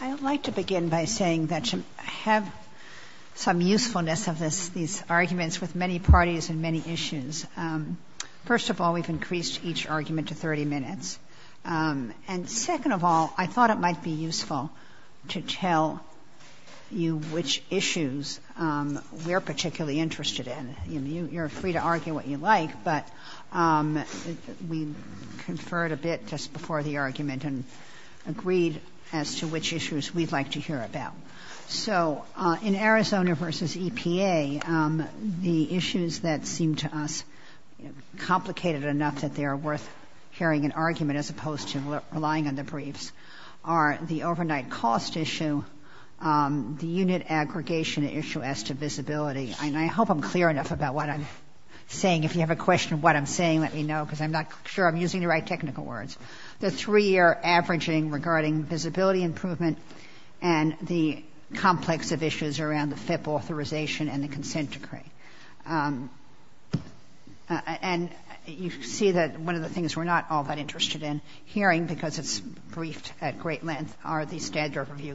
I would like to begin by saying that to have some usefulness of these arguments with many parties and many issues, first of all, we have increased each argument to 30 minutes. And second of all, I thought it might be useful to tell you which issues we are particularly interested in. You are free to argue what you like, but we conferred a bit just before the argument and agreed as to which issues we would like to hear about. So in Arizona v. EPA, the issues that seem to us complicated enough that they are worth hearing an argument as opposed to relying on the briefs are the overnight cost issue, the unit aggregation issue as to visibility. And I hope I'm clear enough about what I'm saying. If you have a question of what I'm saying, let me know because I'm not sure I'm using the right technical words. The three-year averaging regarding visibility improvement and the complex of issues around the FIP authorization and the consent decree. And you see that one of the things we're not all that interested in hearing because it's a very complex issue. So I'm going to turn it over to you, Mr.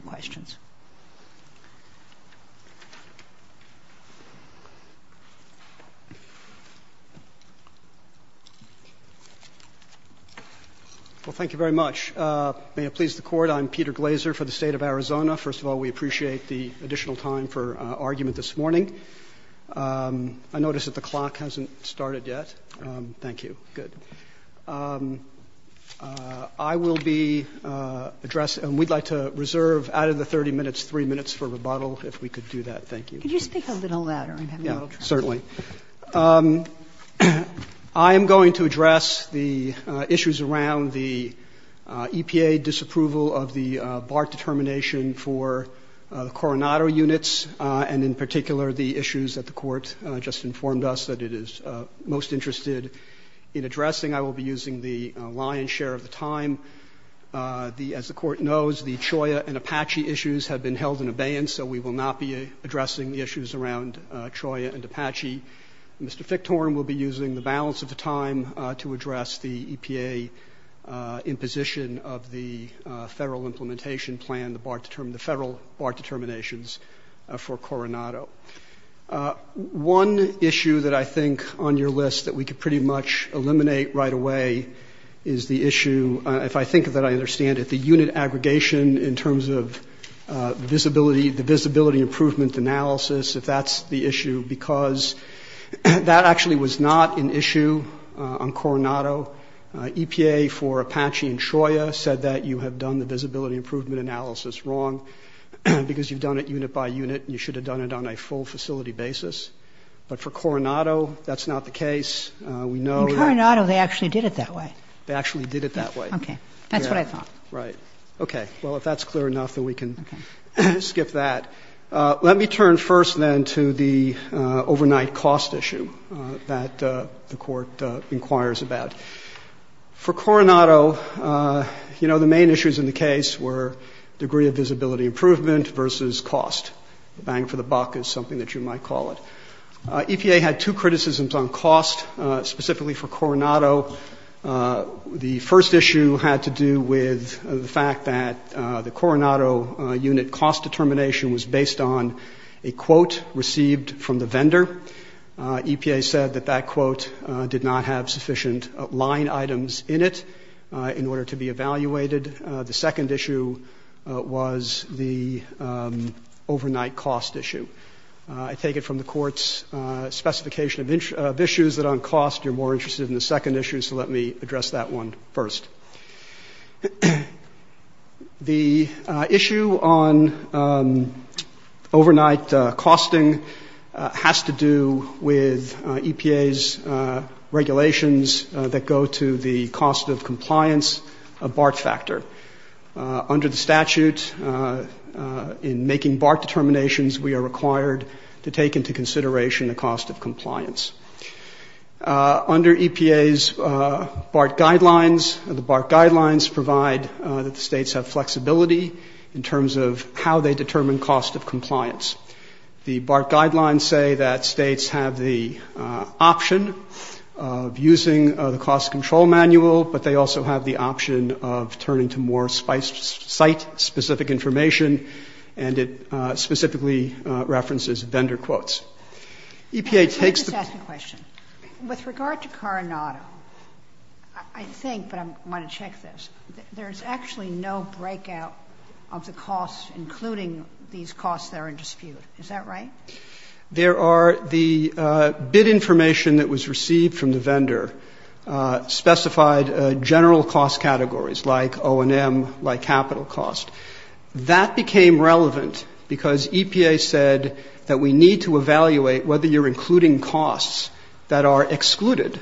Chief Justice, Glaser, for the State of Arizona. First of all, we appreciate the additional time for argument this morning. I notice that the clock hasn't started yet. Thank you. Good. I will be addressing, and we'd like to reserve out of the 30 minutes 3 minutes for rebuttal, if we could do that. Thank you. Could you speak a little louder? I'm having a little trouble. Certainly. I am going to address the issues around the EPA disapproval of the BART determination for the Coronado units and, in particular, the issues that the Court just informed us that it is most interested in addressing. I will be using the lion's share of the time. As the Court knows, the CHOA and APACHE issues have been held in abeyance, so we will not be addressing the issues around CHOA and APACHE. Mr. Fichthorn will be using the balance of the time to address the EPA imposition of the Federal implementation plan, the federal BART determinations for Coronado. One issue that I think on your list that we could pretty much eliminate right away is the issue, if I think that I understand it, the unit aggregation in terms of the visibility improvement analysis, if that's the issue, because that actually was not an issue on Coronado. EPA for APACHE and CHOA said that you have done the visibility improvement analysis wrong because you've done it unit by unit and you should have done it on a full facility basis. But for Coronado, that's not the case. We know Kagan. In Coronado, they actually did it that way. Fichthorn. They actually did it that way. Kagan. Okay. That's what I thought. Fichthorn. Right. Okay. Well, if that's clear enough, then we can skip that. Let me turn first then to the overnight cost issue that the Court inquires about. For Coronado, you know, the main issues in the case were degree of visibility improvement versus cost. The bang for the buck is something that you might call it. EPA had two criticisms on cost, specifically for Coronado. The first issue had to do with the fact that the Coronado unit cost determination was based on a quote received from the vendor. EPA said that that quote did not have sufficient line items in it in order to be evaluated. The second issue was the overnight cost issue. I take it from the Court's specification of issues that on cost you're more interested in the second issue, so let me address that one first. The issue on overnight costing has to do with EPA's regulations that go to the cost of compliance of BART factor. Under the statute, in making BART determinations, we are required to take into consideration the cost of compliance. Under EPA's BART guidelines, the BART guidelines provide that the States have flexibility in terms of how they determine cost of compliance. The BART guidelines say that States have the option of using the cost control manual, but they also have the option of turning to more site-specific information, and it specifically references vendor quotes. EPA takes the — Just ask a question. With regard to Coronado, I think, but I want to check this, there's actually no breakout of the costs, including these costs that are in dispute. Is that right? There are. The bid information that was received from the vendor specified a general cost category, like O&M, like capital cost. That became relevant because EPA said that we need to evaluate whether you're including costs that are excluded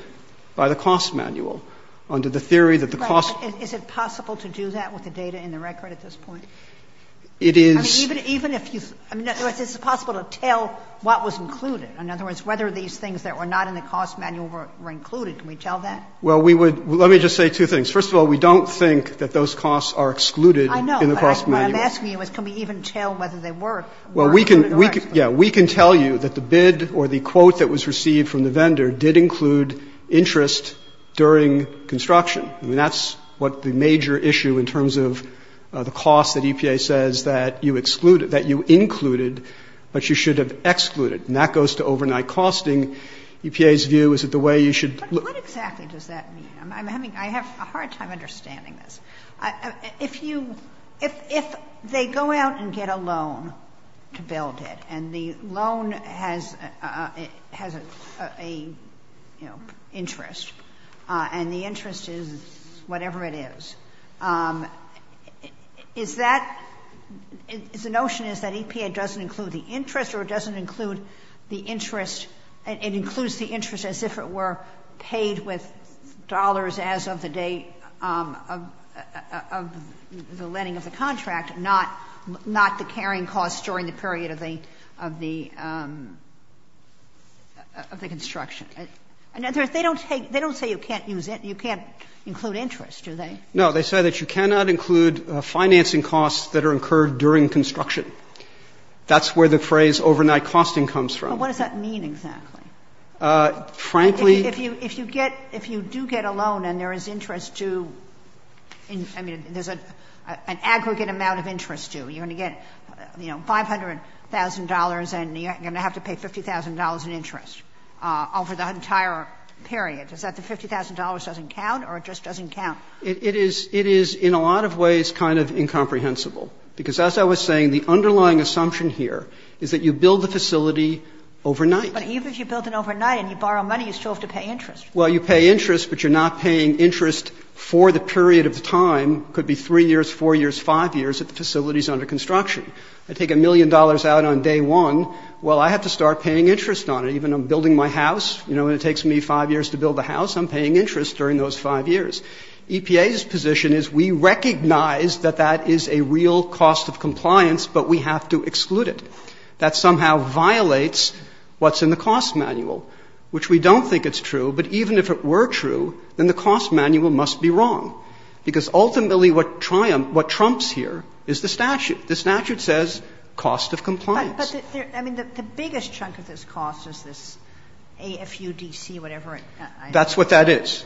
by the cost manual under the theory that the cost — Is it possible to do that with the data in the record at this point? It is. I mean, even if you — I mean, is it possible to tell what was included? In other words, whether these things that were not in the cost manual were included, can we tell that? Well, we would — let me just say two things. First of all, we don't think that those costs are excluded in the cost manual. I know, but what I'm asking you is can we even tell whether they were included or not excluded? Well, we can — yeah, we can tell you that the bid or the quote that was received from the vendor did include interest during construction. I mean, that's what the major issue in terms of the cost that EPA says that you excluded, that you included, but you should have excluded. And that goes to overnight costing. EPA's view is that the way you should — But what exactly does that mean? I'm having — I have a hard time understanding this. If you — if they go out and get a loan to build it, and the loan has a, you know, interest, and the interest is whatever it is, is that — is the notion is that it includes the interest as if it were paid with dollars as of the date of the lending of the contract, not the carrying costs during the period of the — of the construction. In other words, they don't take — they don't say you can't use it, you can't include interest, do they? No. They say that you cannot include financing costs that are incurred during construction. That's where the phrase overnight costing comes from. But what does that mean exactly? Frankly — If you — if you get — if you do get a loan and there is interest to — I mean, there's an aggregate amount of interest due. You're going to get, you know, $500,000 and you're going to have to pay $50,000 in interest over the entire period. Is that the $50,000 doesn't count or it just doesn't count? It is — it is in a lot of ways kind of incomprehensible, because as I was saying, the underlying assumption here is that you build the facility overnight. But even if you build it overnight and you borrow money, you still have to pay interest. Well, you pay interest, but you're not paying interest for the period of time. It could be 3 years, 4 years, 5 years if the facility is under construction. I take a million dollars out on day one. Well, I have to start paying interest on it. Even if I'm building my house, you know, and it takes me 5 years to build the house, I'm paying interest during those 5 years. And the reason I'm saying that is because EPA's position is we recognize that that is a real cost of compliance, but we have to exclude it. That somehow violates what's in the cost manual, which we don't think it's true. But even if it were true, then the cost manual must be wrong, because ultimately what triumphs — what trumps here is the statute. The statute says cost of compliance. But there — I mean, the biggest chunk of this cost is this AFUDC, whatever that's what that is.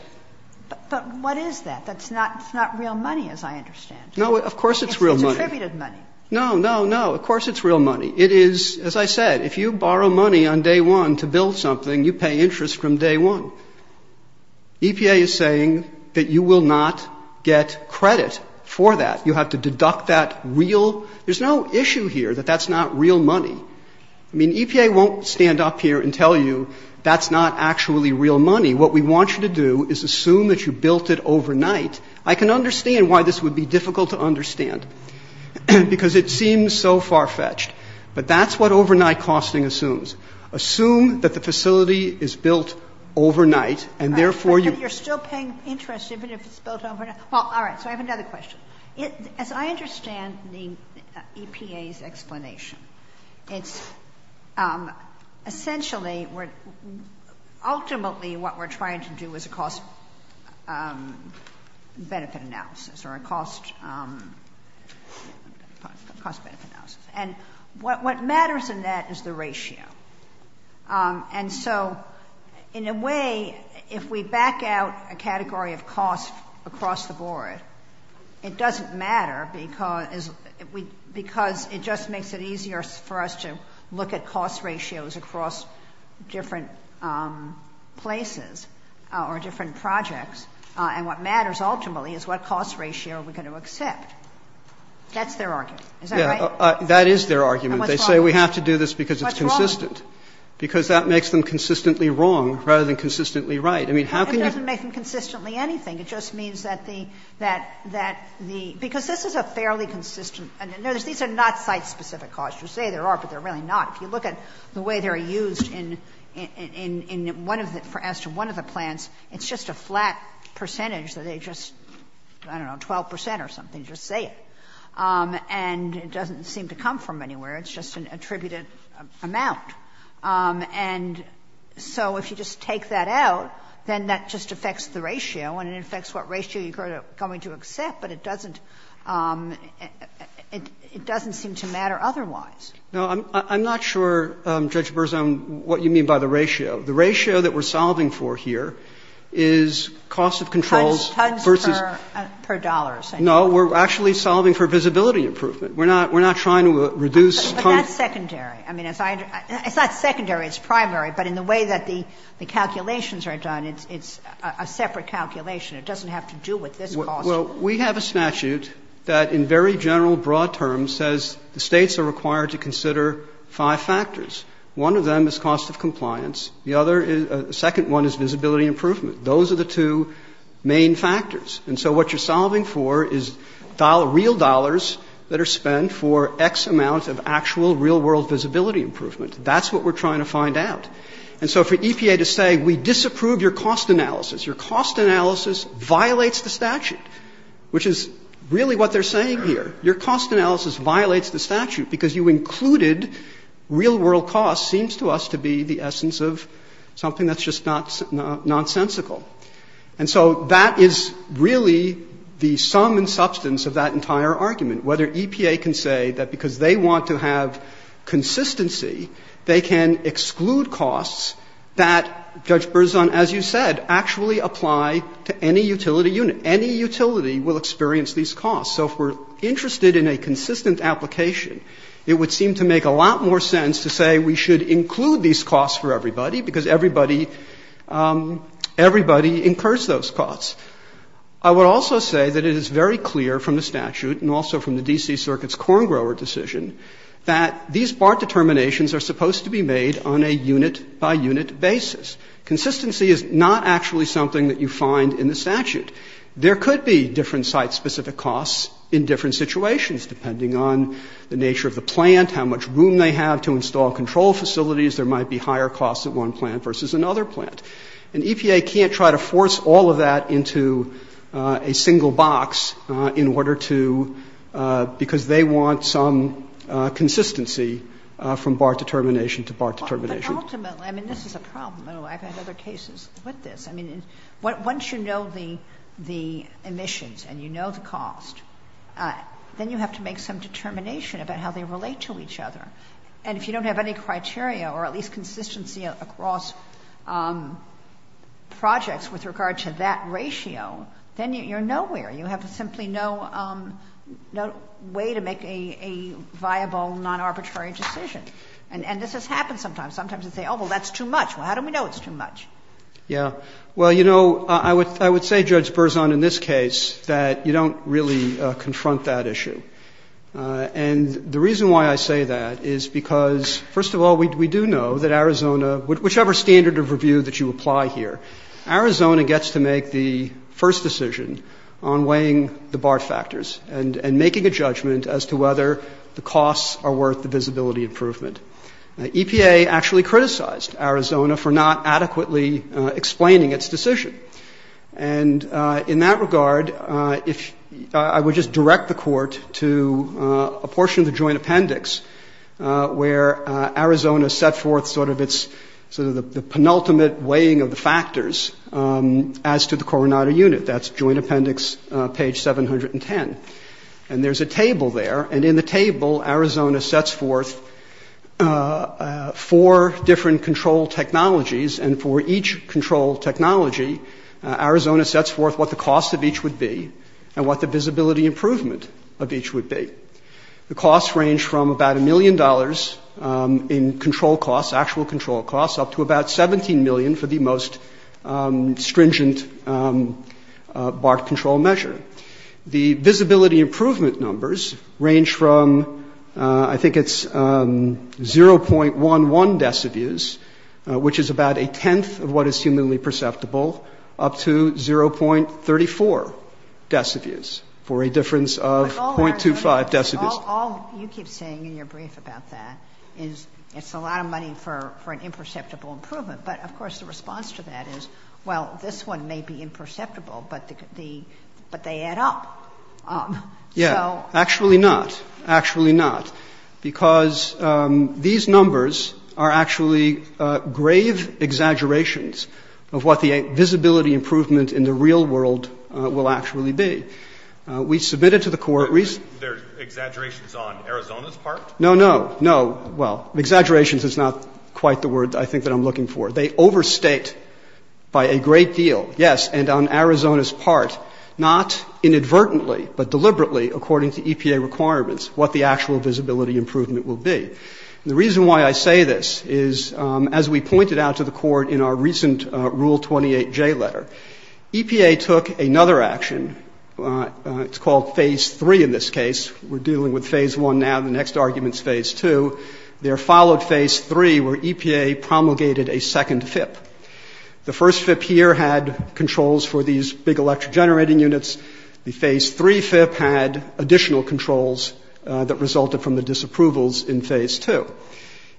But what is that? That's not real money, as I understand. No, of course it's real money. It's attributed money. No, no, no. Of course it's real money. It is, as I said, if you borrow money on day one to build something, you pay interest from day one. EPA is saying that you will not get credit for that. You have to deduct that real — there's no issue here that that's not real money. I mean, EPA won't stand up here and tell you that's not actually real money. What we want you to do is assume that you built it overnight. I can understand why this would be difficult to understand, because it seems so far-fetched. But that's what overnight costing assumes. Assume that the facility is built overnight, and therefore you — But you're still paying interest even if it's built overnight. Well, all right. So I have another question. As I understand the EPA's explanation, it's essentially — ultimately what we're trying to do is a cost-benefit analysis or a cost-benefit analysis. And what matters in that is the ratio. And so in a way, if we back out a category of costs across the board, it doesn't matter because we — because it just makes it easier for us to look at cost ratios across different places or different projects. And what matters ultimately is what cost ratio we're going to accept. That's their argument. Is that right? That is their argument. They say we have to do this because it's consistent. What's wrong? Because that makes them consistently wrong rather than consistently right. I mean, how can you — It doesn't make them consistently anything. It just means that the — that the — because this is a fairly consistent — no, these are not site-specific costs. You say there are, but they're really not. If you look at the way they're used in one of the — as to one of the plants, it's just a flat percentage that they just, I don't know, 12 percent or something just say it. And it doesn't seem to come from anywhere. It's just an attributed amount. And so if you just take that out, then that just affects the ratio, and it affects what ratio you're going to accept, but it doesn't — it doesn't seem to matter otherwise. No, I'm not sure, Judge Berzon, what you mean by the ratio. The ratio that we're solving for here is cost of controls versus — Tons per dollars. No, we're actually solving for visibility improvement. We're not — we're not trying to reduce— But that's secondary. I mean, as I — it's not secondary. It's primary. But in the way that the calculations are done, it's a separate calculation. It doesn't have to do with this cost. Well, we have a statute that in very general broad terms says the States are required to consider five factors. One of them is cost of compliance. The other is — the second one is visibility improvement. Those are the two main factors. And so what you're solving for is real dollars that are spent for X amount of actual real-world visibility improvement. That's what we're trying to find out. And so for EPA to say we disapprove your cost analysis, your cost analysis violates the statute, which is really what they're saying here. Your cost analysis violates the statute because you included real-world costs seems to us to be the essence of something that's just nonsensical. And so that is really the sum and substance of that entire argument, whether EPA can say that because they want to have consistency, they can exclude costs that, Judge Berzon, as you said, actually apply to any utility unit. Any utility will experience these costs. So if we're interested in a consistent application, it would seem to make a lot more sense to say we should include these costs for everybody, because everybody incurs those costs. I would also say that it is very clear from the statute and also from the D.C. Circuit's corn grower decision that these BART determinations are supposed to be made on a unit-by-unit basis. Consistency is not actually something that you find in the statute. There could be different site-specific costs in different situations, depending on the nature of the plant, how much room they have to install control facilities. There might be higher costs at one plant versus another. And EPA can't try to force all of that into a single box in order to – because they want some consistency from BART determination to BART determination. But ultimately – I mean, this is a problem. I've had other cases with this. I mean, once you know the emissions and you know the cost, then you have to make some determination about how they relate to each other. And if you don't have any criteria or at least consistency across projects with regard to that ratio, then you're nowhere. You have simply no way to make a viable, non-arbitrary decision. And this has happened sometimes. Sometimes you say, oh, well, that's too much. Well, how do we know it's too much? Yeah. Well, you know, I would say, Judge Berzon, in this case, that you don't really confront that issue. And the reason why I say that is because, first of all, we do know that Arizona – whichever standard of review that you apply here, Arizona gets to make the first decision on weighing the BART factors and making a judgment as to whether the costs are worth the visibility improvement. EPA actually criticized Arizona for not adequately explaining its decision. And in that regard, if – I would just direct the Court to a portion of the joint appendix where Arizona set forth sort of its – sort of the penultimate weighing of the factors as to the Coronado unit. That's joint appendix page 710. And there's a table there. And in the table, Arizona sets forth four different control technologies. And for each control technology, Arizona sets forth what the cost of each would be and what the visibility improvement of each would be. The costs range from about a million dollars in control costs, actual control costs, up to about 17 million for the most stringent BART control measure. The visibility improvement numbers range from – I think it's 0.11 decibels, which is about a tenth of what is humanly perceptible, up to 0.34 decibels for a difference of 0.25 decibels. But all our – all you keep saying in your brief about that is it's a lot of money for an imperceptible improvement. But, of course, the response to that is, well, this one may be imperceptible, but the – but they add up. Yeah. Actually not. Actually not. Because these numbers are actually grave exaggerations of what the visibility improvement in the real world will actually be. We submitted to the Court recently – There are exaggerations on Arizona's part? No, no, no. Well, exaggerations is not quite the word I think that I'm looking for. They overstate by a great deal, yes, and on Arizona's part, not inadvertently but deliberately, according to EPA requirements, what the actual visibility improvement will be. And the reason why I say this is, as we pointed out to the Court in our recent Rule 28J letter, EPA took another action. It's called Phase 3 in this case. We're dealing with Phase 1 now. The next argument is Phase 2. There followed Phase 3, where EPA promulgated a second FIP. The first FIP here had controls for these big electric generating units. The Phase 3 FIP had additional controls that resulted from the disapprovals in Phase 2.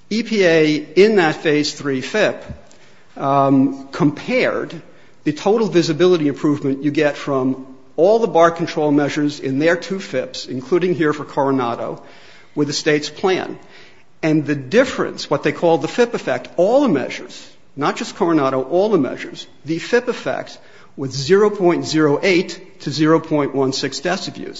EPA, in that Phase 3 FIP, compared the total visibility improvement you get from all the bar control measures in their two FIPs, including here for Coronado, with the State's plan. And the difference, what they call the FIP effect, all the measures, not just 0.08 to 0.16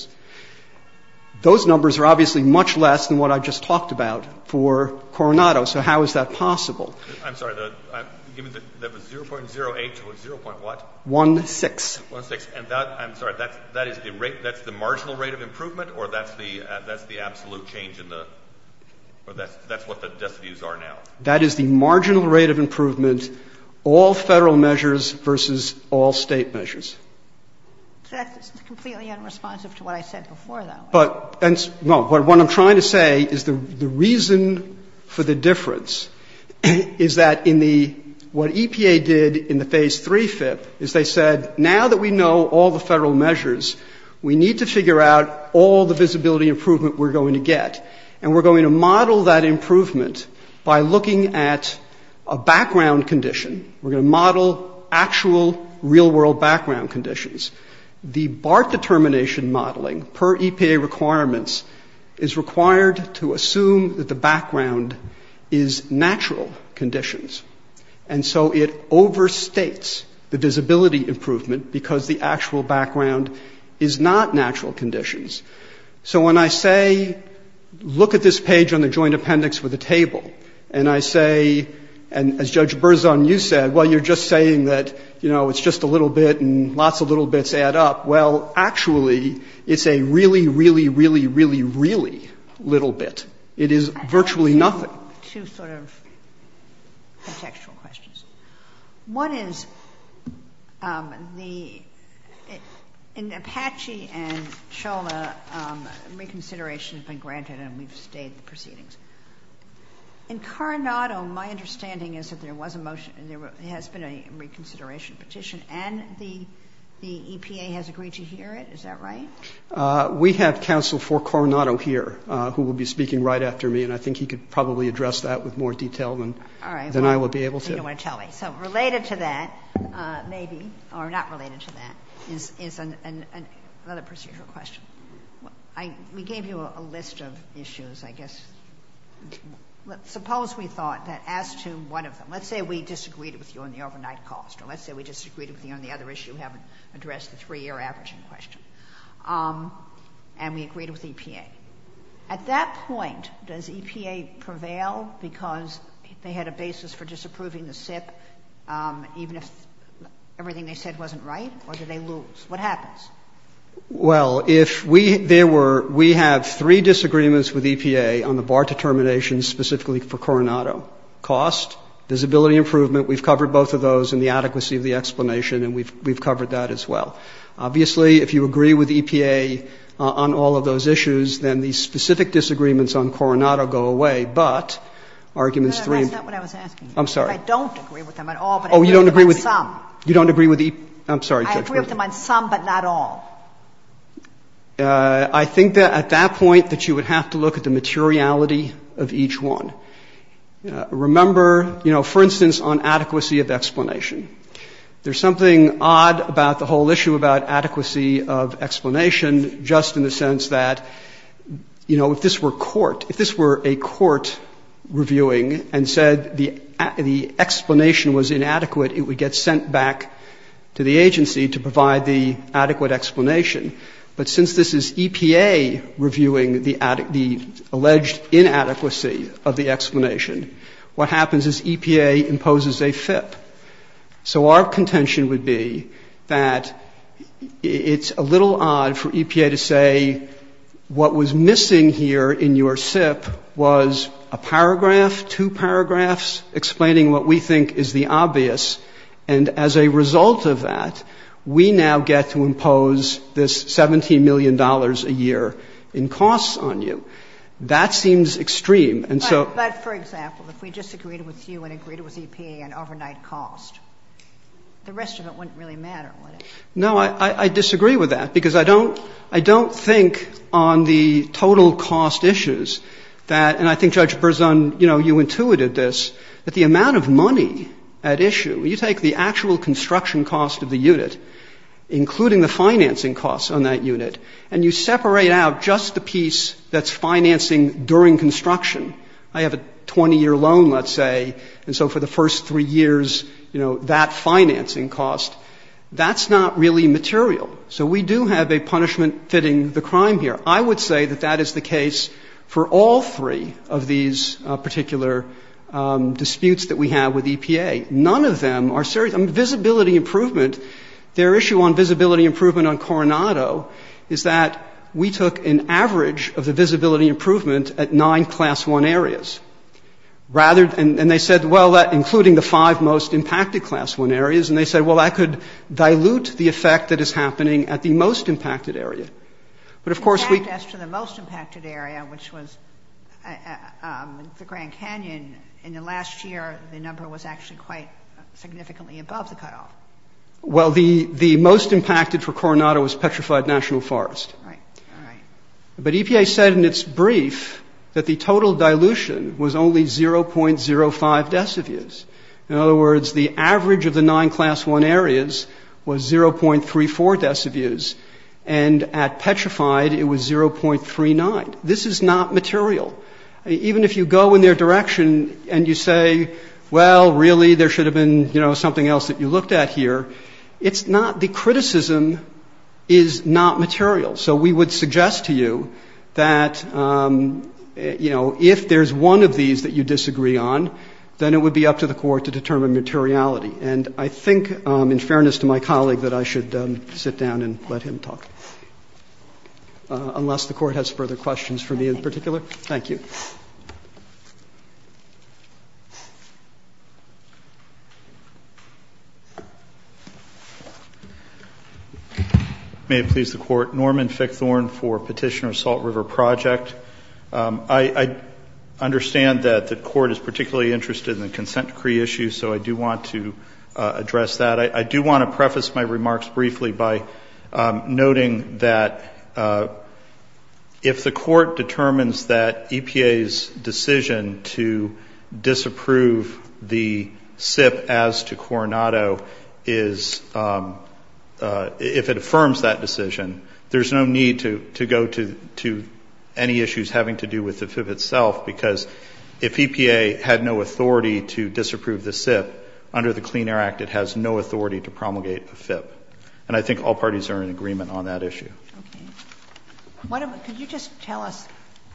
deciviews. Those numbers are obviously much less than what I just talked about for Coronado. So how is that possible? I'm sorry. That was 0.08 to a 0.what? One-sixth. One-sixth. And that, I'm sorry, that is the rate, that's the marginal rate of improvement, or that's the absolute change in the, that's what the deciviews are now? That is the marginal rate of improvement, all Federal measures versus all State measures. So that's completely unresponsive to what I said before, though. But, no, what I'm trying to say is the reason for the difference is that in the, what EPA did in the Phase 3 FIP is they said, now that we know all the Federal measures, we need to figure out all the visibility improvement we're going to get. And we're going to model that improvement by looking at a background condition. We're going to model actual real-world background conditions. The BART determination modeling per EPA requirements is required to assume that the background is natural conditions. And so it overstates the visibility improvement because the actual background is not natural conditions. So when I say, look at this page on the joint appendix with the table, and I say, and as Judge Berzon, you said, well, you're just saying that, you know, it's just a little bit and lots of little bits add up. Well, actually, it's a really, really, really, really, really little bit. It is virtually nothing. Two sort of contextual questions. One is the, in Apache and Shola, reconsideration has been granted and we've stayed the proceedings. In Coronado, my understanding is that there was a motion, there has been a reconsideration petition, and the EPA has agreed to hear it. Is that right? We have counsel for Coronado here who will be speaking right after me, and I think he could probably address that with more detail than I will be able to. All right. You don't want to tell me. So related to that, maybe, or not related to that, is another procedural question. We gave you a list of issues, I guess. Suppose we thought that as to one of them, let's say we disagreed with you on the overnight cost, or let's say we disagreed with you on the other issue, haven't addressed the three-year averaging question, and we agreed with EPA. At that point, does EPA prevail because they had a basis for disapproving the SIP, even if everything they said wasn't right, or do they lose? What happens? Well, if we, there were, we have three disagreements with EPA on the bar determinations specifically for Coronado. Cost, visibility improvement, we've covered both of those, and the adequacy of the explanation, and we've covered that as well. Obviously, if you agree with EPA on all of those issues, then these specific disagreements on Coronado go away, but arguments three. That's not what I was asking. I'm sorry. I don't agree with them at all, but I agree with them on some. Oh, you don't agree with, you don't agree with, I'm sorry, Judge Berger. I agree with them on some, but not all. I think that at that point that you would have to look at the materiality of each one. Remember, you know, for instance, on adequacy of explanation. There's something odd about the whole issue about adequacy of explanation just in the sense that, you know, if this were court, if this were a court reviewing and said the explanation was inadequate, it would get sent back to the agency to provide the adequate explanation. But since this is EPA reviewing the alleged inadequacy of the explanation, what happens is EPA imposes a FIP. So our contention would be that it's a little odd for EPA to say what was missing here in your SIP was a paragraph, two paragraphs, explaining what we think is the obvious, and as a result of that, we now get to impose this $17 million a year in costs on you. That seems extreme, and so. But, for example, if we disagreed with you and agreed it was EPA and overnight cost, the rest of it wouldn't really matter, would it? No, I disagree with that, because I don't think on the total cost issues that, and I think, Judge Berzon, you know, you intuited this, that the amount of money at issue, you take the actual construction cost of the unit, including the financing costs on that unit, and you separate out just the piece that's financing during construction, I have a 20-year loan, let's say, and so for the first three years, you know, that financing cost, that's not really material. So we do have a punishment fitting the crime here. I would say that that is the case for all three of these particular disputes that we have with EPA. None of them are serious. Visibility improvement, their issue on visibility improvement on Coronado is that we took an average of the visibility improvement at nine Class I areas, rather than, and they said, well, including the five most impacted Class I areas, and they said, well, that could dilute the effect that is happening at the most impacted area. But, of course, we In fact, as for the most impacted area, which was the Grand Canyon, in the last year, the number was actually quite significantly above the cutoff. Well, the most impacted for Coronado was Petrified National Forest. Right. All right. But EPA said in its brief that the total dilution was only 0.05 decibels. In other words, the average of the nine Class I areas was 0.34 decibels, and at Petrified, it was 0.39. This is not material. Even if you go in their direction and you say, well, really, there should have been, you know, something else that you looked at here, it's not the criticism is not material. So we would suggest to you that, you know, if there's one of these that you disagree on, then it would be up to the Court to determine materiality. And I think, in fairness to my colleague, that I should sit down and let him talk, unless the Court has further questions for me in particular. Thank you. May it please the Court. Norman Fickthorn for Petitioner Salt River Project. I understand that the Court is particularly interested in the consent decree issue, so I do want to address that. I do want to preface my remarks briefly by noting that if the Court determines that EPA's decision to disapprove the SIP as to Coronado is — if it affirms that decision, there's no need to go to any issues having to do with the FIP itself, because if EPA had no authority to disapprove the SIP, under the Clean Air Act, it has no authority to promulgate a FIP. And I think all parties are in agreement on that issue. Okay. Could you just tell us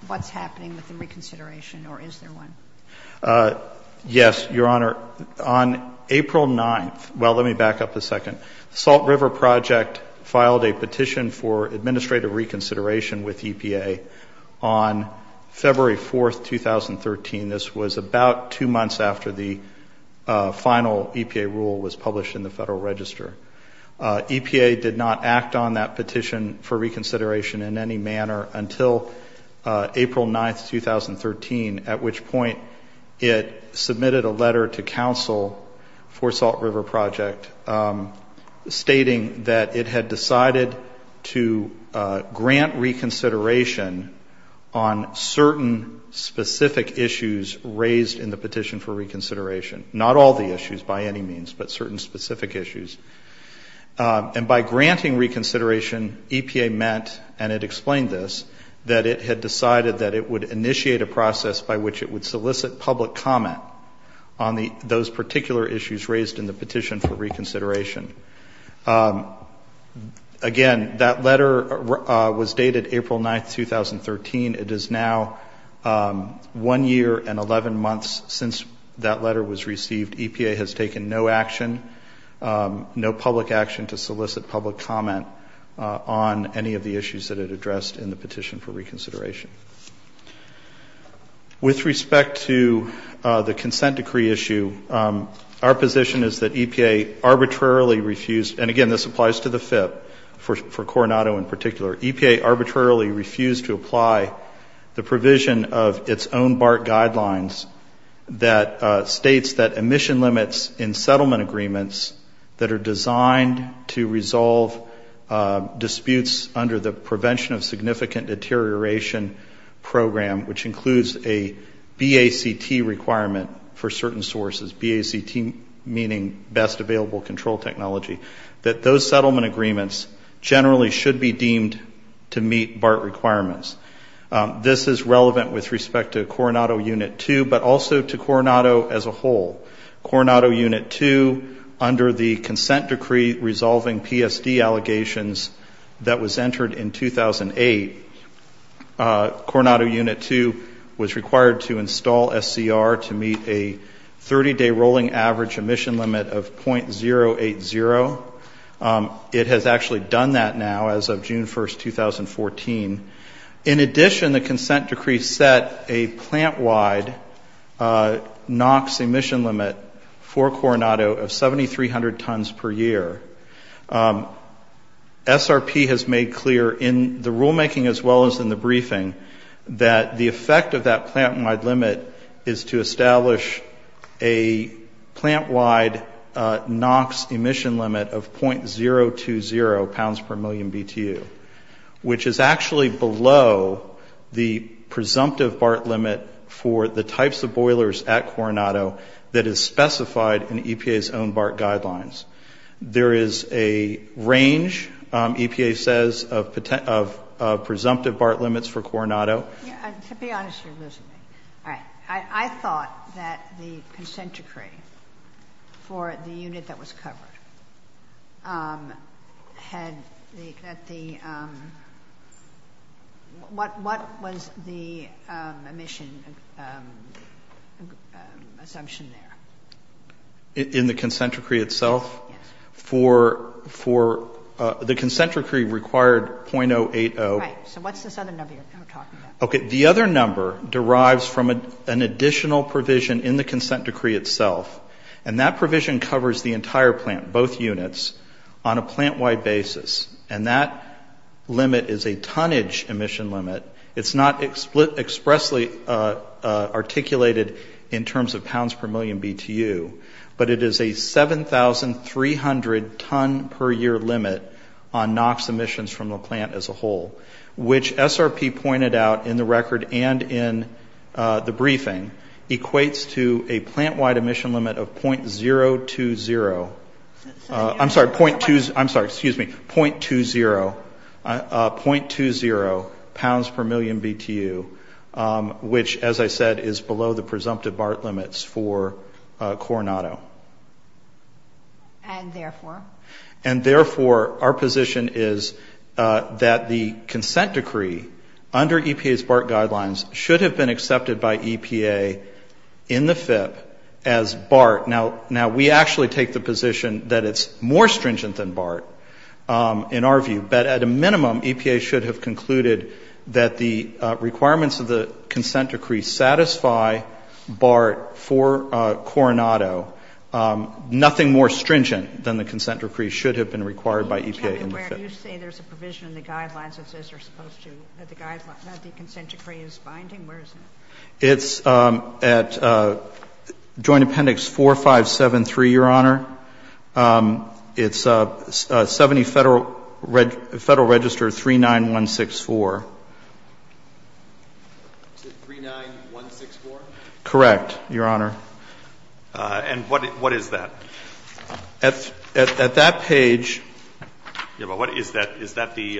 what's happening with the reconsideration, or is there one? Yes, Your Honor. On April 9th — well, let me back up a second. The Salt River Project filed a petition for administrative reconsideration with EPA on February 4th, 2013. This was about two months after the final EPA rule was published in the Federal Register. EPA did not act on that petition for reconsideration in any manner until April 9th, 2013, at which point it submitted a letter to counsel for Salt River Project stating that it had decided to grant reconsideration on certain specific issues raised in the petition for reconsideration. Not all the issues, by any means, but certain specific issues. And by granting reconsideration, EPA meant, and it explained this, that it had decided that it would initiate a process by which it would solicit public comment on those particular issues raised in the petition for reconsideration. Again, that letter was dated April 9th, 2013. It is now one year and 11 months since that letter was received. EPA has taken no action, no public action to solicit public comment on any of the issues that it addressed in the petition for reconsideration. With respect to the consent decree issue, our position is that EPA arbitrarily refused — and again, this applies to the FIP for Coronado in particular — EPA arbitrarily refused to apply the provision of its own BART guidelines that states that emission limits in settlement agreements that are designed to resolve disputes under the Prevention of Significant Deterioration Program, which includes a BACT requirement for certain sources, BACT meaning best available control technology, that those settlement agreements generally should be deemed to meet BART requirements. This is relevant with respect to Coronado Unit 2, but also to Coronado as a whole. Coronado Unit 2, under the consent decree resolving PSD allegations that was entered in 2008, Coronado Unit 2 was required to install SCR to meet a 30-day rolling average emission limit of .080. It has actually done that now as of June 1, 2014. In addition, the consent decree set a plant-wide NOx emission limit for Coronado of 7,300 tons per year. SRP has made clear in the rulemaking as well as in the briefing that the effect of a plant-wide NOx emission limit of .020 pounds per million BTU, which is actually below the presumptive BART limit for the types of boilers at Coronado that is specified in EPA's own BART guidelines. There is a range, EPA says, of presumptive BART limits for Coronado. Kagan. To be honest, you're losing me. All right. I thought that the consent decree for the unit that was covered had the — what was the emission assumption there? In the consent decree itself? Yes. For the consent decree required .080. Right. So what's this other number you're talking about? Okay. The other number derives from an additional provision in the consent decree itself, and that provision covers the entire plant, both units, on a plant-wide basis. And that limit is a tonnage emission limit. It's not expressly articulated in terms of pounds per million BTU, but it is a 7,300 ton per year limit on NOx emissions from the plant as a whole, which SRP pointed out in the record and in the briefing, equates to a plant-wide emission limit of .020 — I'm sorry, .2 — I'm sorry, excuse me, .20 pounds per million BTU, which, as I said, is below the presumptive BART limits for Coronado. And therefore? And therefore, our position is that the consent decree under EPA's BART guidelines should have been accepted by EPA in the FIP as BART. Now, we actually take the position that it's more stringent than BART in our view, but at a minimum, EPA should have concluded that the requirements of the consent decree satisfy BART for BART. And therefore, our position is that the consent decree should have been required by EPA in the FIP. Where do you say there's a provision in the guidelines that says you're supposed to — that the consent decree is binding? Where is it? It's at Joint Appendix 4573, Your Honor. It's 70 Federal Register 39164. It's at 39164? Correct, Your Honor. And what is that? At that page — Yeah, but what is that? Is that the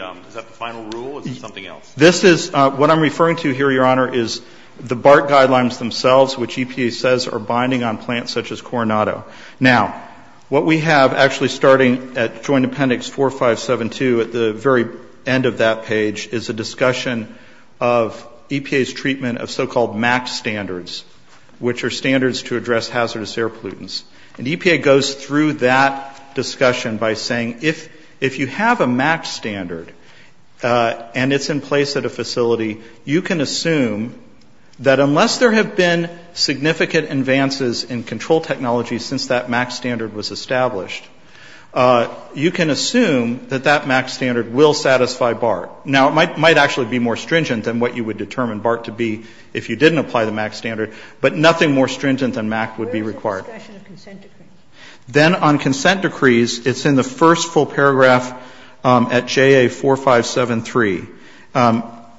final rule or is it something else? This is — what I'm referring to here, Your Honor, is the BART guidelines themselves, which EPA says are binding on plants such as Coronado. Now, what we have actually starting at Joint Appendix 4572 at the very end of that page is a discussion of EPA's treatment of so-called MAC standards, which are standards to address hazardous air pollutants. And EPA goes through that discussion by saying if you have a MAC standard and it's in place at a facility, you can assume that unless there have been full technologies since that MAC standard was established, you can assume that that MAC standard will satisfy BART. Now, it might actually be more stringent than what you would determine BART to be if you didn't apply the MAC standard, but nothing more stringent than MAC would be required. Where is the discussion of consent decrees? Then on consent decrees, it's in the first full paragraph at JA 4573.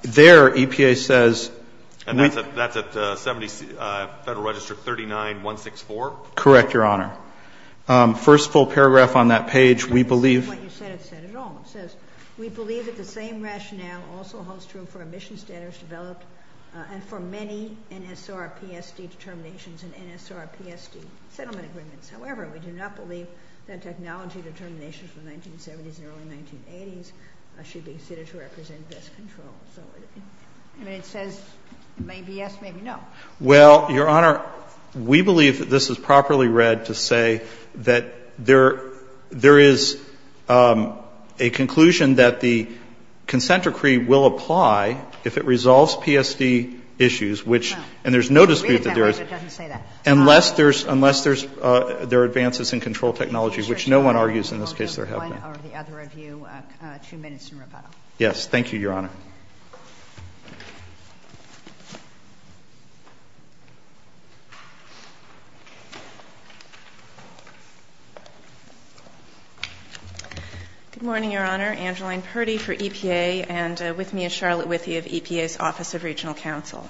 There, EPA says — And that's at 70 — Federal Register 39164? Correct, Your Honor. First full paragraph on that page, we believe — That's not what you said at all. It says we believe that the same rationale also holds true for emission standards developed and for many NSRPSD determinations and NSRPSD settlement agreements. However, we do not believe that technology determinations from the 1970s and early 1980s should be subject to consent decrees. Well, Your Honor, we believe that this is properly read to say that there is a conclusion that the consent decree will apply if it resolves PSD issues, which — and there's no dispute that there is — It doesn't say that. Unless there's — unless there are advances in control technology, which no one argues in this case there have been. One or the other of you. Two minutes in rebuttal. Yes. Thank you, Your Honor. Good morning, Your Honor. Angeline Purdy for EPA and with me is Charlotte Withee of EPA's Office of Regional Counsel.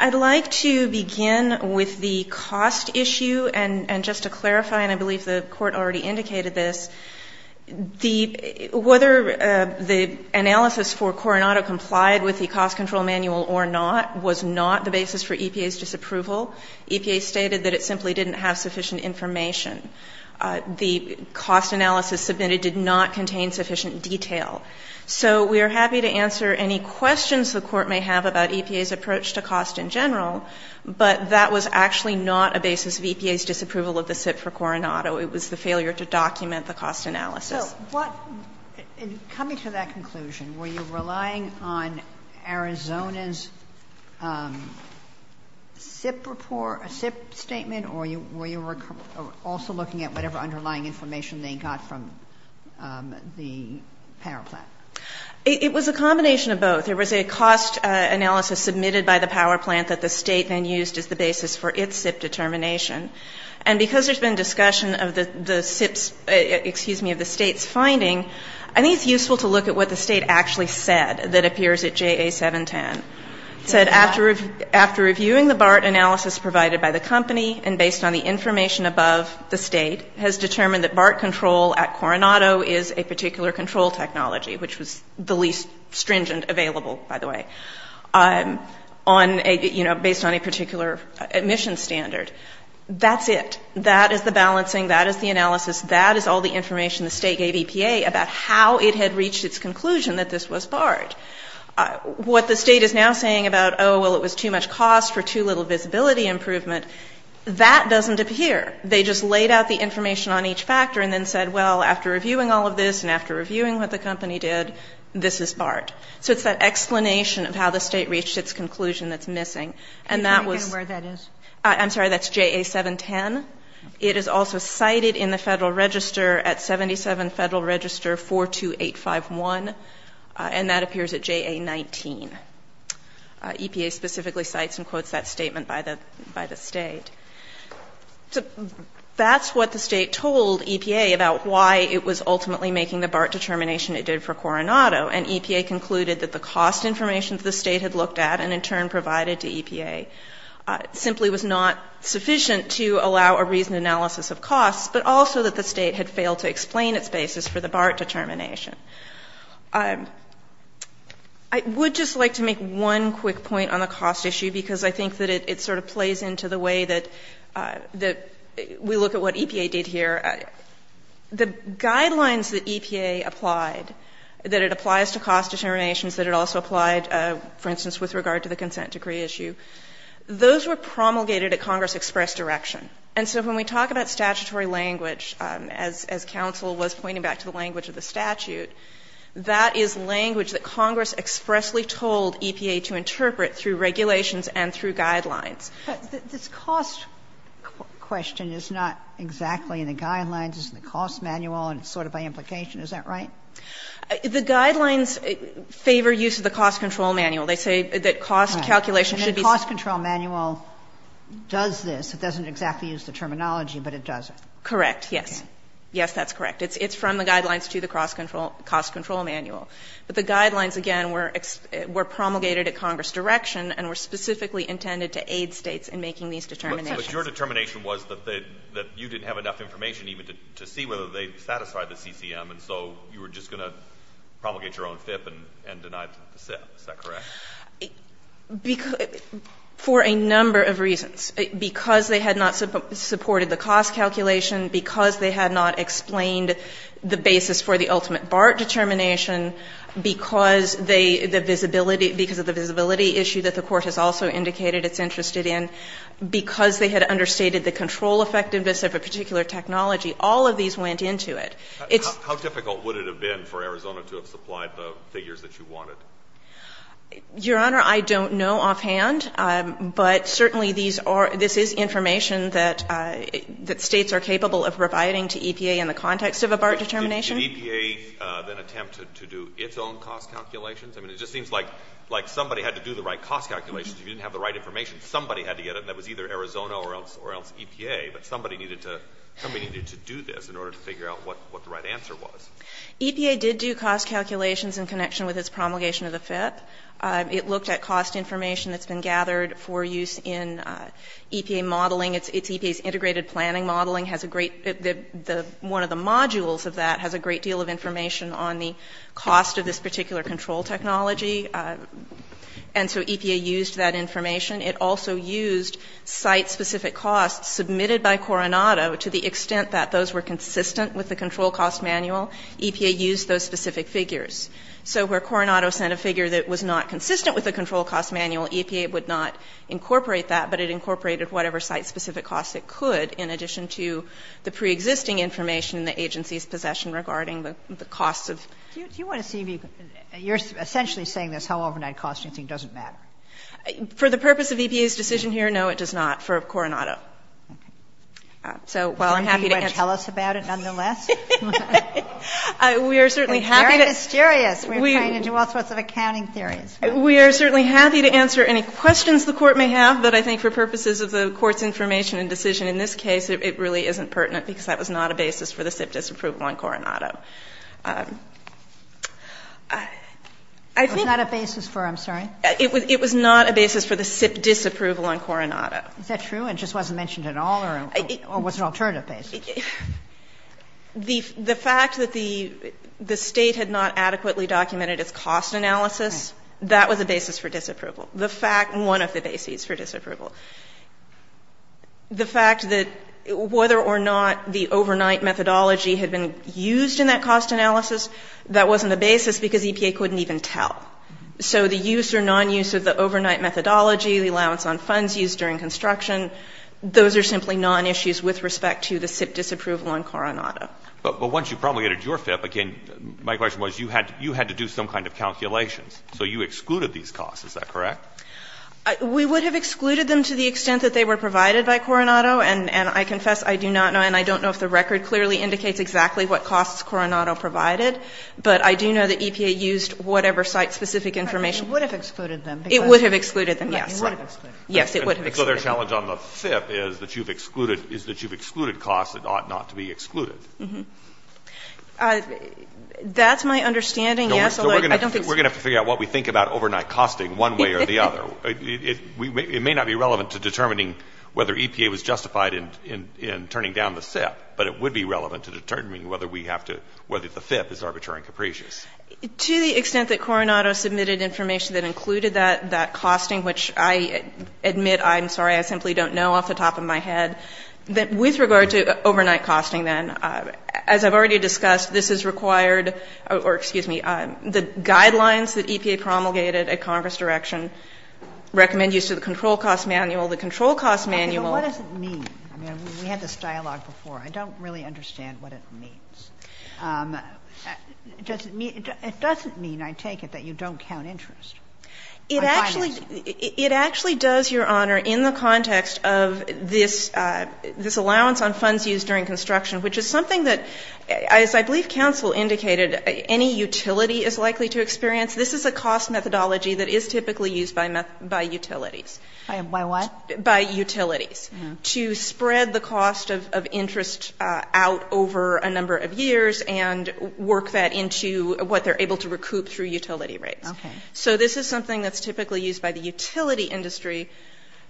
I'd like to begin with the cost issue and just to clarify, and I believe the Court already indicated this, the — whether the analysis for Coronado complied with the cost control manual or not was not the basis for EPA's disapproval. EPA stated that it simply didn't have sufficient information. The cost analysis submitted did not contain sufficient detail. So we are happy to answer any questions the Court may have about EPA's approach to cost in general, but that was actually not a basis of EPA's disapproval of the SIP for Coronado. It was the failure to document the cost analysis. So what — coming to that conclusion, were you relying on Arizona's SIP report, a SIP statement, or were you also looking at whatever underlying information they got from the power plant? It was a combination of both. There was a cost analysis submitted by the power plant that the State then used as the basis for its SIP determination. And because there's been discussion of the SIP's — excuse me, of the State's finding, I think it's useful to look at what the State actually said that appears at JA-710. It said, after reviewing the BART analysis provided by the company and based on the information above, the State has determined that BART control at Coronado is a particular control technology, which was the least stringent available, by the way, on a — you know, that's it. That is the balancing. That is the analysis. That is all the information the State gave EPA about how it had reached its conclusion that this was BART. What the State is now saying about, oh, well, it was too much cost for too little visibility improvement, that doesn't appear. They just laid out the information on each factor and then said, well, after reviewing all of this and after reviewing what the company did, this is BART. So it's that explanation of how the State reached its conclusion that's missing. And that was — Can you tell me again where that is? I'm sorry, that's JA-710. It is also cited in the Federal Register at 77 Federal Register 42851. And that appears at JA-19. EPA specifically cites and quotes that statement by the State. That's what the State told EPA about why it was ultimately making the BART determination it did for Coronado. And EPA concluded that the cost information the State had looked at and in turn provided to EPA simply was not sufficient to allow a reasoned analysis of costs, but also that the State had failed to explain its basis for the BART determination. I would just like to make one quick point on the cost issue because I think that it sort of plays into the way that we look at what EPA did here. The guidelines that EPA applied, that it applies to cost determinations, that it also applied, for instance, with regard to the consent decree issue, those were promulgated at Congress-expressed direction. And so when we talk about statutory language, as counsel was pointing back to the language of the statute, that is language that Congress expressly told EPA to interpret through regulations and through guidelines. But this cost question is not exactly in the guidelines. It's in the cost manual, and it's sort of by implication. Is that right? The guidelines favor use of the cost control manual. They say that cost calculation should be safe. And the cost control manual does this. It doesn't exactly use the terminology, but it does it. Correct, yes. Yes, that's correct. It's from the guidelines to the cost control manual. But the guidelines, again, were promulgated at Congress direction and were specifically intended to aid States in making these determinations. But your determination was that you didn't have enough information even to see whether they satisfied the CCM, and so you were just going to promulgate your own FIP and deny the FIP. Is that correct? For a number of reasons. Because they had not supported the cost calculation, because they had not explained the basis for the ultimate BART determination, because they the visibility – because of the visibility issue that the Court has also indicated it's interested in, because they had understated the control effectiveness of a particular technology, all of these went into it. How difficult would it have been for Arizona to have supplied the figures that you wanted? Your Honor, I don't know offhand, but certainly these are – this is information that States are capable of providing to EPA in the context of a BART determination. Did EPA then attempt to do its own cost calculations? I mean, it just seems like somebody had to do the right cost calculations. If you didn't have the right information, somebody had to get it, and that was either Arizona or else EPA. But somebody needed to do this in order to figure out what the right answer was. EPA did do cost calculations in connection with its promulgation of the FIP. It looked at cost information that's been gathered for use in EPA modeling. It's EPA's integrated planning modeling, has a great – one of the modules of that has a great deal of information on the cost of this particular control technology. And so EPA used that information. It also used site-specific costs submitted by Coronado to the extent that those were consistent with the control cost manual. EPA used those specific figures. So where Coronado sent a figure that was not consistent with the control cost manual, EPA would not incorporate that, but it incorporated whatever site-specific costs it could in addition to the preexisting information in the agency's possession regarding the costs of the FIP. Do you want to see if you can – you're essentially saying this, how overnight cost you think doesn't matter. For the purpose of EPA's decision here, no, it does not for Coronado. So while I'm happy to answer – Are you going to tell us about it nonetheless? It's very mysterious. We're trying to do all sorts of accounting theories. We are certainly happy to answer any questions the Court may have, but I think for purposes of the Court's information and decision in this case, it really isn't pertinent because that was not a basis for the SIP disapproval on Coronado. It was not a basis for, I'm sorry? It was not a basis for the SIP disapproval on Coronado. Is that true? It just wasn't mentioned at all? Or was it an alternative basis? The fact that the State had not adequately documented its cost analysis, that was a basis for disapproval. The fact – one of the bases for disapproval. The fact that whether or not the overnight methodology had been used in that cost analysis, that wasn't a basis because EPA couldn't even tell. So the use or nonuse of the overnight methodology, the allowance on funds used during construction, those are simply nonissues with respect to the SIP disapproval on Coronado. But once you promulgated your FIP, again, my question was you had to do some kind of calculations. So you excluded these costs. Is that correct? We would have excluded them to the extent that they were provided by Coronado, and I confess I do not know, and I don't know if the record clearly indicates exactly what costs Coronado provided. But I do know that EPA used whatever site-specific information. It would have excluded them. It would have excluded them, yes. It would have excluded them. Yes, it would have excluded them. So their challenge on the FIP is that you've excluded costs that ought not to be excluded. That's my understanding, yes, although I don't think so. We're going to have to figure out what we think about overnight costing one way or the other. It may not be relevant to determining whether EPA was justified in turning down the FIP, but it would be relevant to determining whether we have to, whether the FIP is arbitrary and capricious. To the extent that Coronado submitted information that included that costing, which I admit I'm sorry, I simply don't know off the top of my head, that with regard to overnight costing, then, as I've already discussed, this has required, or excuse me, the guidelines that EPA promulgated at Congress direction recommend use of the control cost manual. The control cost manual. Okay. But what does it mean? I mean, we had this dialogue before. I don't really understand what it means. Does it mean, it doesn't mean, I take it, that you don't count interest. It actually does, Your Honor, in the context of this allowance on funds used during construction, which is something that, as I believe counsel indicated, any utility is likely to experience. This is a cost methodology that is typically used by utilities. By what? By utilities. To spread the cost of interest out over a number of years and work that into what they're able to recoup through utility rates. Okay. So this is something that's typically used by the utility industry.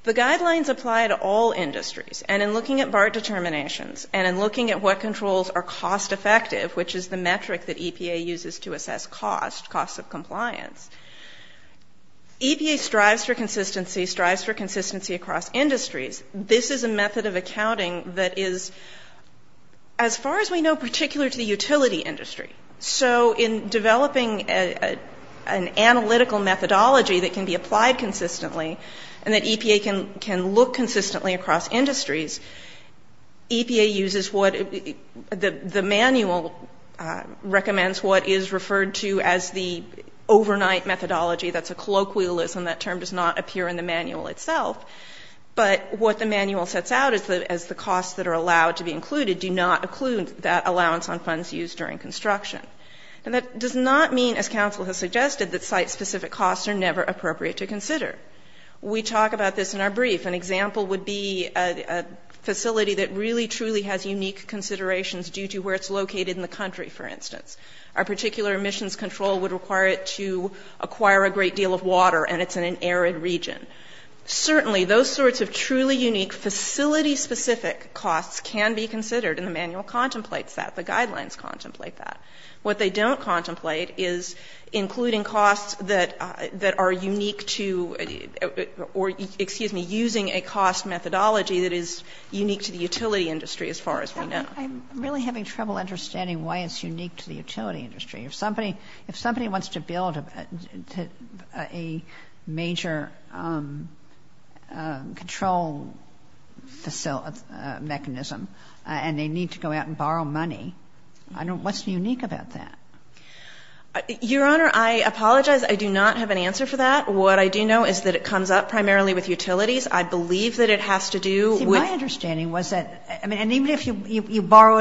The guidelines apply to all industries. And in looking at BART determinations and in looking at what controls are cost effective, which is the metric that EPA uses to assess cost, cost of compliance, EPA strives for consistency, strives for consistency across industries. This is a method of accounting that is, as far as we know, particular to the utility industry. So in developing an analytical methodology that can be applied consistently and that EPA can look consistently across industries, EPA uses what the manual recommends, what is referred to as the overnight methodology. That's a colloquialism. That term does not appear in the manual itself. But what the manual sets out is the costs that are allowed to be included do not occlude that allowance on funds used during construction. And that does not mean, as counsel has suggested, that site-specific costs are never appropriate to consider. We talk about this in our brief. An example would be a facility that really, truly has unique considerations due to where it's located in the country, for instance. Our particular emissions control would require it to acquire a great deal of water, and it's in an arid region. Certainly, those sorts of truly unique facility-specific costs can be considered, and the manual contemplates that. The guidelines contemplate that. What they don't contemplate is including costs that are unique to or, excuse me, using a cost methodology that is unique to the utility industry, as far as we are concerned. But I'm really having trouble understanding why it's unique to the utility industry. If somebody wants to build a major control mechanism and they need to go out and borrow money, what's unique about that? Your Honor, I apologize. I do not have an answer for that. What I do know is that it comes up primarily with utilities. I believe that it has to do with the utility industry.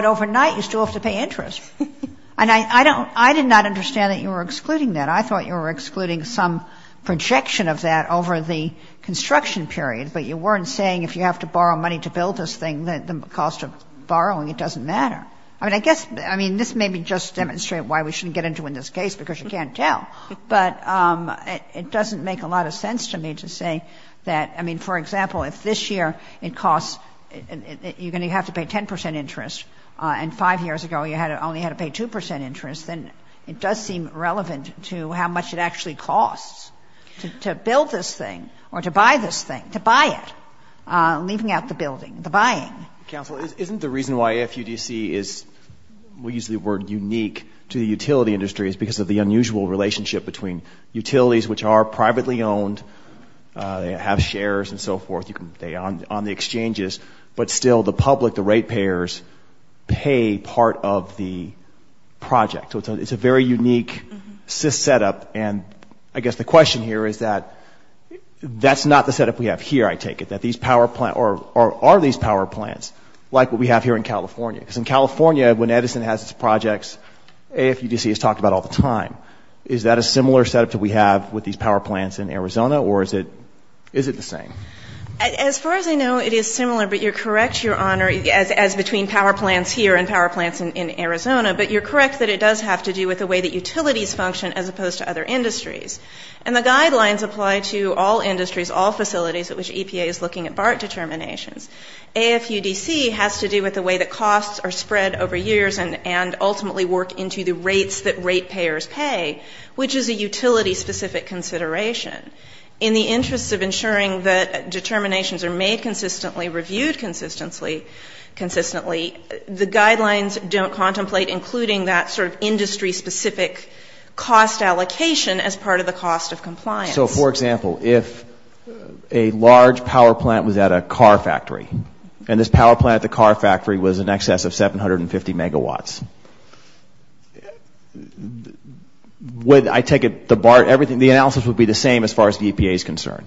Overnight, you still have to pay interest. And I did not understand that you were excluding that. I thought you were excluding some projection of that over the construction period, but you weren't saying if you have to borrow money to build this thing, the cost of borrowing, it doesn't matter. I mean, I guess, I mean, this may be just to demonstrate why we shouldn't get into in this case, because you can't tell. But it doesn't make a lot of sense to me to say that, I mean, for example, if this year it costs, you're going to have to pay 10 percent interest, and 5 years ago you only had to pay 2 percent interest, then it does seem relevant to how much it actually costs to build this thing or to buy this thing, to buy it, leaving out the building, the buying. Counsel, isn't the reason why FUDC is, we use the word unique, to the utility industry is because of the unusual relationship between utilities, which are privately owned, they have shares and so forth, you can, on the exchanges, but still the public, the rate payers, pay part of the project. So it's a very unique SIS setup, and I guess the question here is that that's not the setup we have here, I take it, that these power plants, or are these power plants like what we have here in California? Because in California, when Edison has its projects, AFUDC is talked about all the time. Is that a similar setup that we have with these power plants in Arizona, or is it the same? As far as I know, it is similar, but you're correct, Your Honor, as between power plants here and power plants in Arizona, but you're correct that it does have to do with the way that utilities function as opposed to other industries. And the guidelines apply to all industries, all facilities at which EPA is looking at BART determinations. AFUDC has to do with the way that costs are spread over years and ultimately work into the rates that rate payers pay, which is a utility-specific consideration. In the interest of ensuring that determinations are made consistently, reviewed consistently, the guidelines don't contemplate including that sort of industry-specific cost allocation as part of the cost of compliance. So, for example, if a large power plant was at a car factory, and this power plant at 750 megawatts, would, I take it, the analysis would be the same as far as EPA is concerned?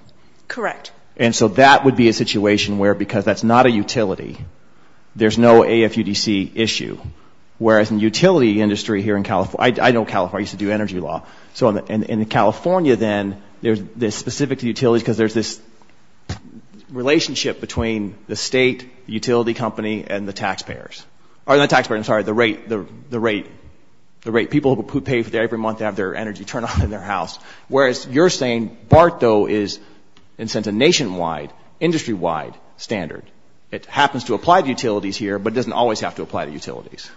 Correct. And so that would be a situation where, because that's not a utility, there's no AFUDC issue, whereas in the utility industry here in California, I know California, I used to do energy law, so in California, then, they're specific to utilities because there's this relationship between the state, the utility company, and the taxpayers. Or not taxpayers, I'm sorry, the rate, the rate, the rate, people who pay for their every month, they have their energy turned on in their house, whereas you're saying BART, though, is, in a sense, a nationwide, industry-wide standard. It happens to apply to utilities here, but it doesn't always have to apply to utilities.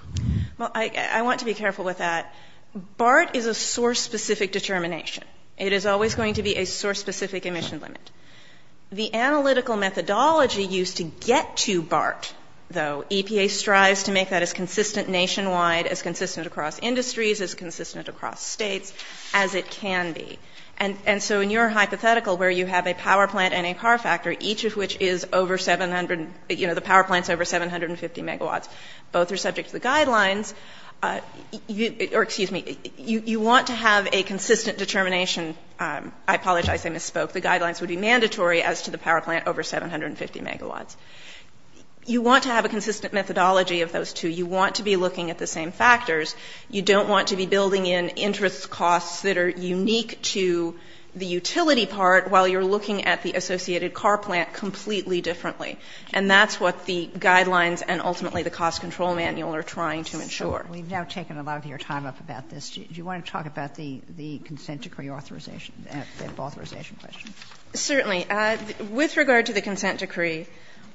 Well, I want to be careful with that. BART is a source-specific determination. It is always going to be a source-specific emission limit. The analytical methodology used to get to BART, though, EPA strives to make that as consistent nationwide, as consistent across industries, as consistent across states, as it can be. And so in your hypothetical, where you have a power plant and a car factor, each of which is over 700, you know, the power plant's over 750 megawatts, both are subject to the guidelines. You, or excuse me, you want to have a consistent determination. I apologize, I misspoke. The guidelines would be mandatory as to the power plant over 750 megawatts. You want to have a consistent methodology of those two. You want to be looking at the same factors. You don't want to be building in interest costs that are unique to the utility part while you're looking at the associated car plant completely differently. And that's what the guidelines and ultimately the cost control manual are trying Sotomayor, we've now taken a lot of your time up about this. Do you want to talk about the consent decree authorization? The authorization question? Certainly. With regard to the consent decree,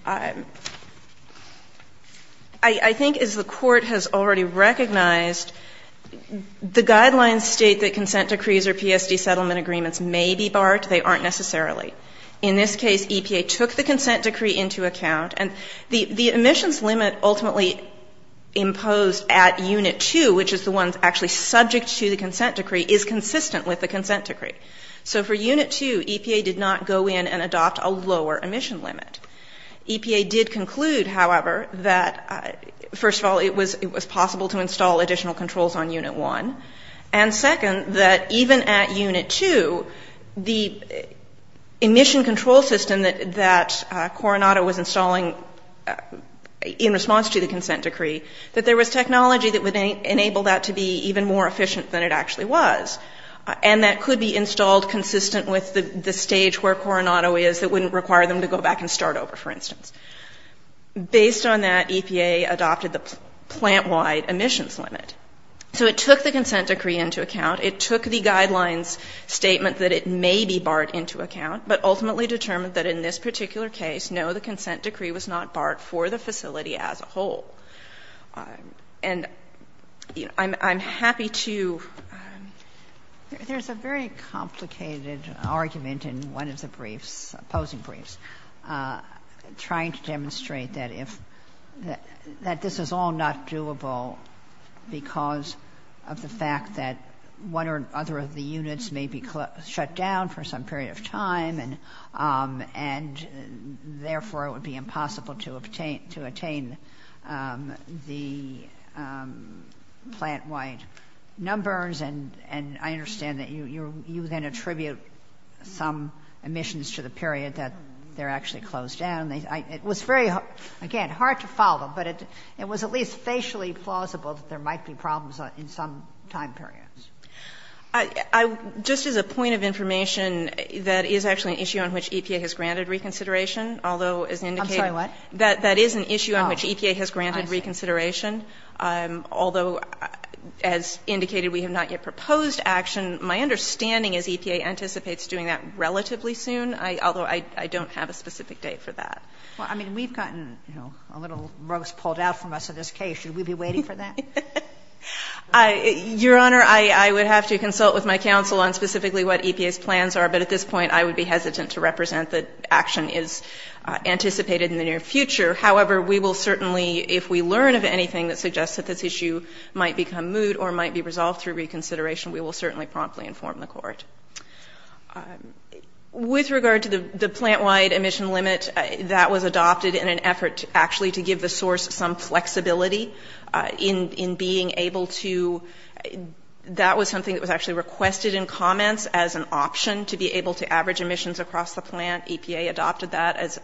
I think as the Court has already recognized, the guidelines state that consent decrees or PSD settlement agreements may be BART. They aren't necessarily. In this case, EPA took the consent decree into account. And the emissions limit ultimately imposed at Unit 2, which is the one actually subject to the consent decree, is consistent with the consent decree. So for Unit 2, EPA did not go in and adopt a lower emission limit. EPA did conclude, however, that first of all, it was possible to install additional controls on Unit 1. And second, that even at Unit 2, the emission control system that Coronado was installing in response to the consent decree, that there was technology that would enable that to be even more efficient than it actually was. And that could be installed consistent with the stage where Coronado is that wouldn't require them to go back and start over, for instance. Based on that, EPA adopted the plant-wide emissions limit. So it took the consent decree into account. It took the guidelines statement that it may be BART into account, but ultimately determined that in this particular case, no, the consent decree was not BART for the facility as a whole. And I'm happy to. Ginsburg. There's a very complicated argument in one of the briefs, opposing briefs, trying to demonstrate that this is all not doable because of the fact that one or other of the units may be shut down for some period of time, and therefore it would be impossible to obtain the plant-wide numbers. And I understand that you then attribute some emissions to the period that they're actually closed down. It was very, again, hard to follow, but it was at least facially plausible that there might be problems in some time periods. Just as a point of information, that is actually an issue on which EPA has granted reconsideration, although as indicated. I'm sorry, what? That is an issue on which EPA has granted reconsideration, although as indicated, we have not yet proposed action. My understanding is EPA anticipates doing that relatively soon, although I don't have a specific date for that. Well, I mean, we've gotten, you know, a little roast pulled out from us in this case. Should we be waiting for that? Your Honor, I would have to consult with my counsel on specifically what EPA's plans are, but at this point I would be hesitant to represent that action is anticipated in the near future. However, we will certainly, if we learn of anything that suggests that this issue might become moot or might be resolved through reconsideration, we will certainly promptly inform the Court. With regard to the plant-wide emission limit, that was adopted in an effort actually to give the source some flexibility in being able to, that was something that was actually requested in comments as an option to be able to average emissions across the plant. EPA adopted that as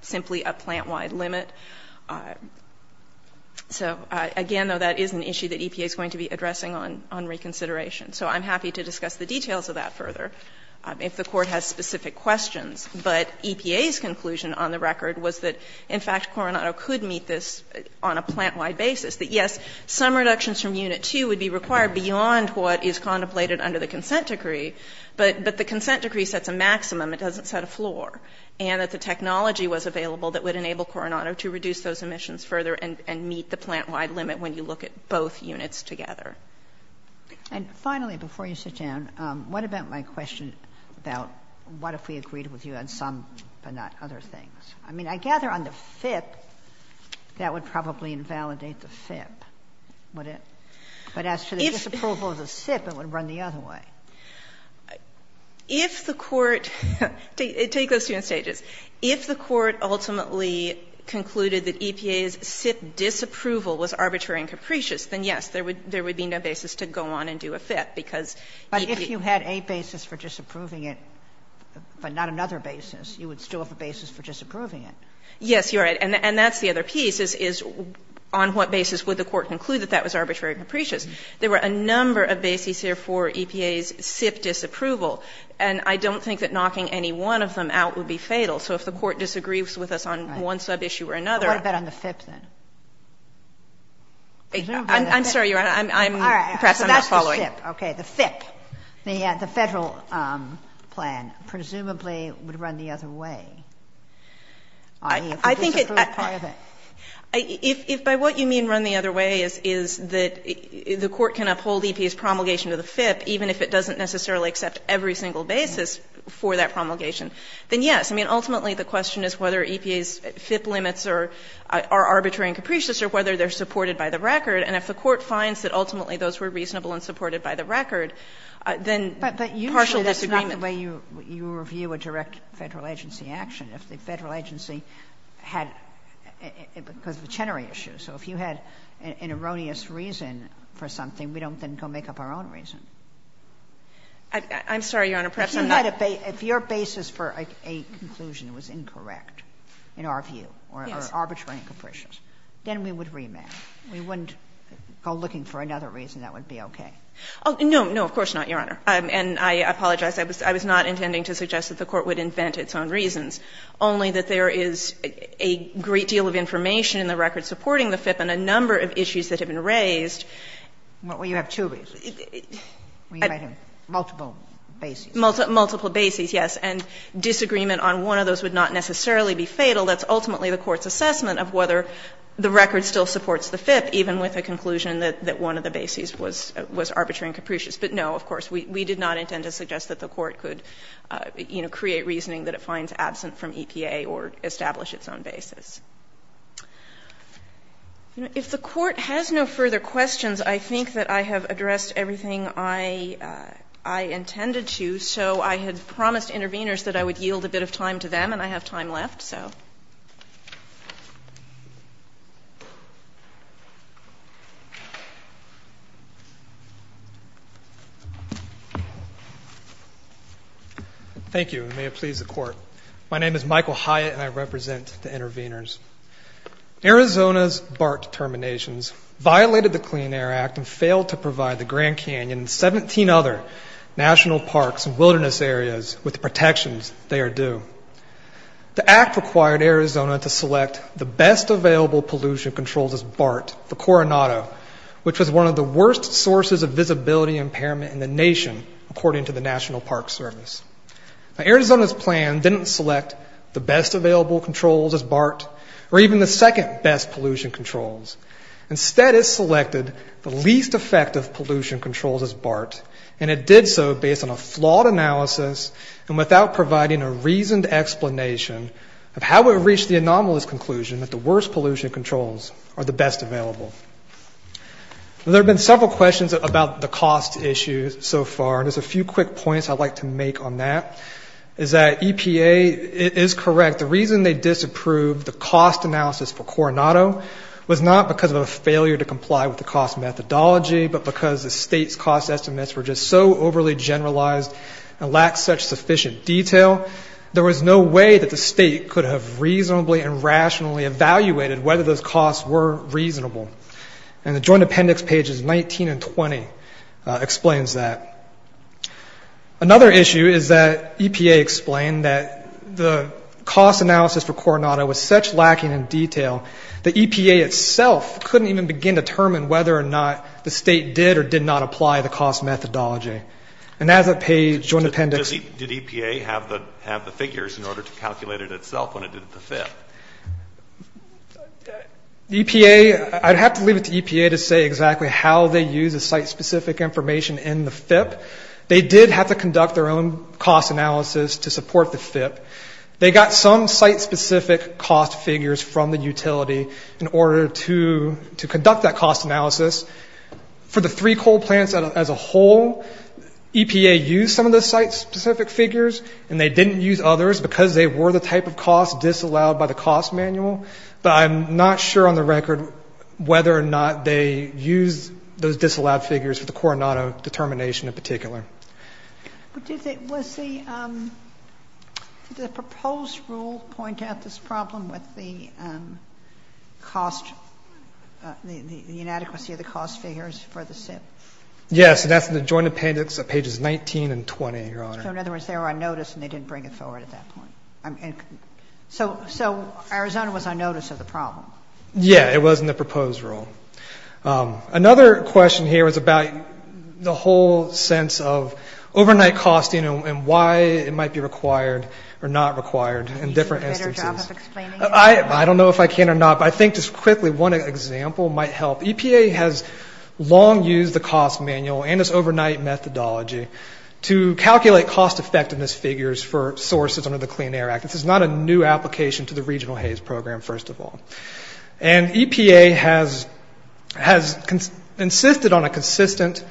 simply a plant-wide limit. So, again, though, that is an issue that EPA is going to be addressing on reconsideration. So I'm happy to discuss the details of that further if the Court has specific questions. But EPA's conclusion on the record was that, in fact, Coronado could meet this on a plant-wide basis. That, yes, some reductions from Unit 2 would be required beyond what is contemplated under the consent decree, but the consent decree sets a maximum. It doesn't set a floor. And that the technology was available that would enable Coronado to reduce those emissions further and meet the plant-wide limit when you look at both units together. And finally, before you sit down, what about my question about what if we agreed with you on some but not other things? I mean, I gather on the FIP that would probably invalidate the FIP, wouldn't it? But as to the disapproval of the SIP, it would run the other way. If the Court, take those two in stages. If the Court ultimately concluded that EPA's SIP disapproval was arbitrary and capricious, then, yes, there would be no basis to go on and do a FIP, because EPA. Sotomayor, but if you had a basis for disapproving it, but not another basis, you would still have a basis for disapproving it. Yes, you're right. And that's the other piece, is on what basis would the Court conclude that that was arbitrary and capricious? There were a number of bases here for EPA's SIP disapproval. And I don't think that knocking any one of them out would be fatal. So if the Court disagrees with us on one sub-issue or another. But what about on the FIP, then? I'm sorry, Your Honor. Perhaps I'm not following. All right. So that's the SIP. Okay. The FIP, the Federal plan, presumably would run the other way. I mean, if it disapproved part of it. I think if by what you mean run the other way is that the Court can uphold EPA's promulgation of the FIP, even if it doesn't necessarily accept every single basis for that promulgation, then, yes. I mean, ultimately the question is whether EPA's FIP limits are arbitrary and capricious or whether they're supported by the record. And if the Court finds that ultimately those were reasonable and supported by the record, then partial disagreement. But usually that's not the way you review a direct Federal agency action. If the Federal agency had, because of the Chenery issue. So if you had an erroneous reason for something, we don't then go make up our own reason. I'm sorry, Your Honor. Perhaps I'm not. If your basis for a conclusion was incorrect, in our view, or arbitrary and capricious, then we would remand. We wouldn't go looking for another reason that would be okay. No. No, of course not, Your Honor. And I apologize. I was not intending to suggest that the Court would invent its own reasons. Only that there is a great deal of information in the record supporting the FIP and a number of issues that have been raised. Well, you have two reasons. Multiple basis. Multiple basis, yes. And disagreement on one of those would not necessarily be fatal. That's ultimately the Court's assessment of whether the record still supports the FIP, even with a conclusion that one of the basis was arbitrary and capricious. But no, of course, we did not intend to suggest that the Court could, you know, create reasoning that it finds absent from EPA or establish its own basis. If the Court has no further questions, I think that I have addressed everything I intended to. So I had promised interveners that I would yield a bit of time to them, and I have time left, so. Thank you, and may it please the Court. My name is Michael Hyatt, and I represent the interveners. Arizona's BART determinations violated the Clean Air Act and failed to provide the Grand Canyon and 17 other national parks and wilderness areas with the protections they are due. The act required Arizona to select the best available pollution controls as BART for Coronado, which was one of the worst sources of visibility impairment in the nation, according to the National Park Service. Now, Arizona's plan didn't select the best available controls as BART or even the second best pollution controls. Instead, it selected the least effective pollution controls as BART, and it did so based on a flawed analysis and without providing a reasoned explanation of how it reached the anomalous conclusion that the worst pollution controls are the best available. There have been several questions about the cost issue so far, and there's a few quick points I'd like to make on that, is that EPA is correct. The reason they disapproved the cost analysis for Coronado was not because of a failure to comply with the cost methodology, but because the state's cost estimates were just so overly generalized and lacked such sufficient detail, there was no way that the state could have reasonably and rationally evaluated whether those costs were reasonable. And the Joint Appendix pages 19 and 20 explains that. Another issue is that EPA explained that the cost analysis for Coronado was such lacking in detail that EPA itself couldn't even begin to determine whether or not the state did or did not apply the cost methodology. And as that page, Joint Appendix – Did EPA have the figures in order to calculate it itself when it did it to FIP? EPA – I'd have to leave it to EPA to say exactly how they use the site-specific information in the FIP. They did have to conduct their own cost analysis to support the FIP. They got some site-specific cost figures from the utility in order to conduct that cost analysis. For the three coal plants as a whole, EPA used some of the site-specific figures, and they didn't use others because they were the type of cost disallowed by the cost manual. But I'm not sure on the record whether or not they used those disallowed figures for the Coronado determination in particular. But did the – was the – did the proposed rule point out this problem with the cost – the inadequacy of the cost figures for the SIP? Yes. And that's in the Joint Appendix at pages 19 and 20, Your Honor. So in other words, they were on notice and they didn't bring it forward at that point. So Arizona was on notice of the problem. Yeah. It was in the proposed rule. Another question here is about the whole sense of overnight costing and why it might be required or not required in different instances. Do you do a better job of explaining it? I don't know if I can or not, but I think just quickly one example might help. EPA has long used the cost manual and its overnight methodology to calculate cost-effectiveness figures for sources under the Clean Air Act. This is not a new application to the regional HAZE program, first of all. And EPA has insisted on a consistent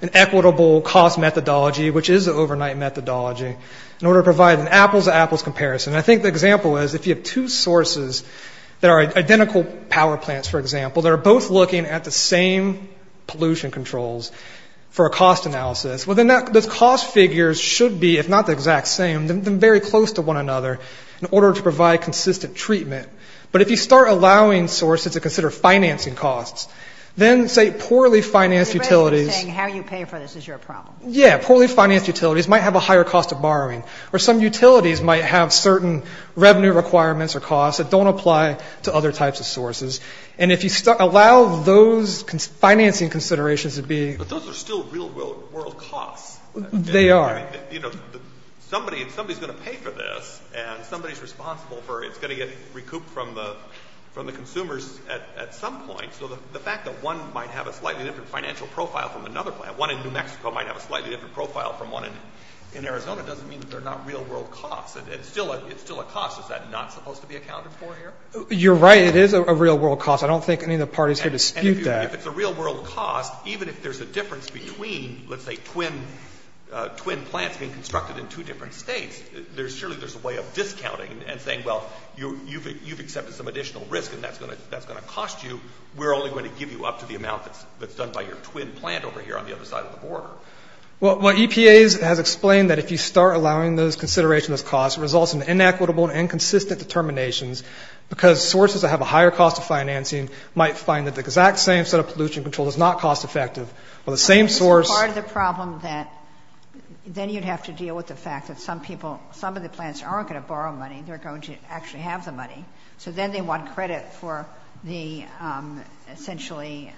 and equitable cost methodology, which is the overnight methodology, in order to provide an apples-to-apples comparison. And I think the example is if you have two sources that are identical power plants, for example, that are both looking at the same pollution controls for a cost analysis, well, then those cost figures should be, if not the exact same, then very close to one another in order to provide consistent treatment. But if you start allowing sources to consider financing costs, then, say, poorly financed utilities. You're basically saying how you pay for this is your problem. Yeah. Poorly financed utilities might have a higher cost of borrowing, or some utilities might have certain revenue requirements or costs that don't apply to other types of sources. And if you allow those financing considerations to be... But those are still real-world costs. They are. Somebody's going to pay for this, and somebody's responsible for it. It's going to get recouped from the consumers at some point. So the fact that one might have a slightly different financial profile from another plant, one in New Mexico might have a slightly different profile from one in Arizona, doesn't mean that they're not real-world costs. It's still a cost. Is that not supposed to be accounted for here? You're right. It is a real-world cost. I don't think any of the parties here dispute that. If it's a real-world cost, even if there's a difference between, let's say, twin plants being constructed in two different states, surely there's a way of discounting and saying, well, you've accepted some additional risk, and that's going to cost you. We're only going to give you up to the amount that's done by your twin plant over here on the other side of the border. Well, EPA has explained that if you start allowing those considerations as costs, it results in inequitable and inconsistent determinations because sources that have a higher cost of financing might find that the exact same set of pollution control is not cost-effective. Well, the same source- Part of the problem that then you'd have to deal with the fact that some people, some of the plants aren't going to borrow money. They're going to actually have the money. So then they want credit for the, essentially,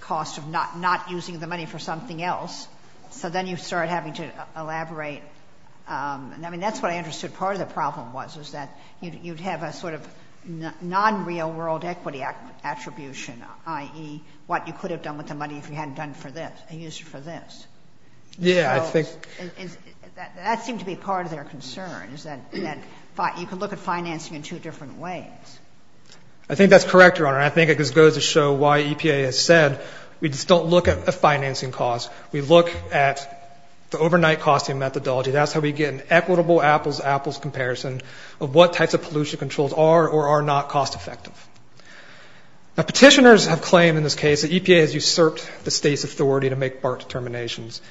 cost of not using the money for something else. So then you start having to elaborate. I mean, that's what I understood part of the problem was, is that you'd have a sort of non-real world equity attribution, i.e., what you could have done with the money if you hadn't done it for this and used it for this. Yeah, I think- That seemed to be part of their concern, is that you could look at financing in two different ways. I think that's correct, Your Honor. I think it just goes to show why EPA has said we just don't look at a financing cost. We look at the overnight costing methodology. That's how we get an equitable apples-to-apples comparison of what types of pollution controls are or are not cost effective. Now, petitioners have claimed in this case that EPA has usurped the state's authority to make BART determinations.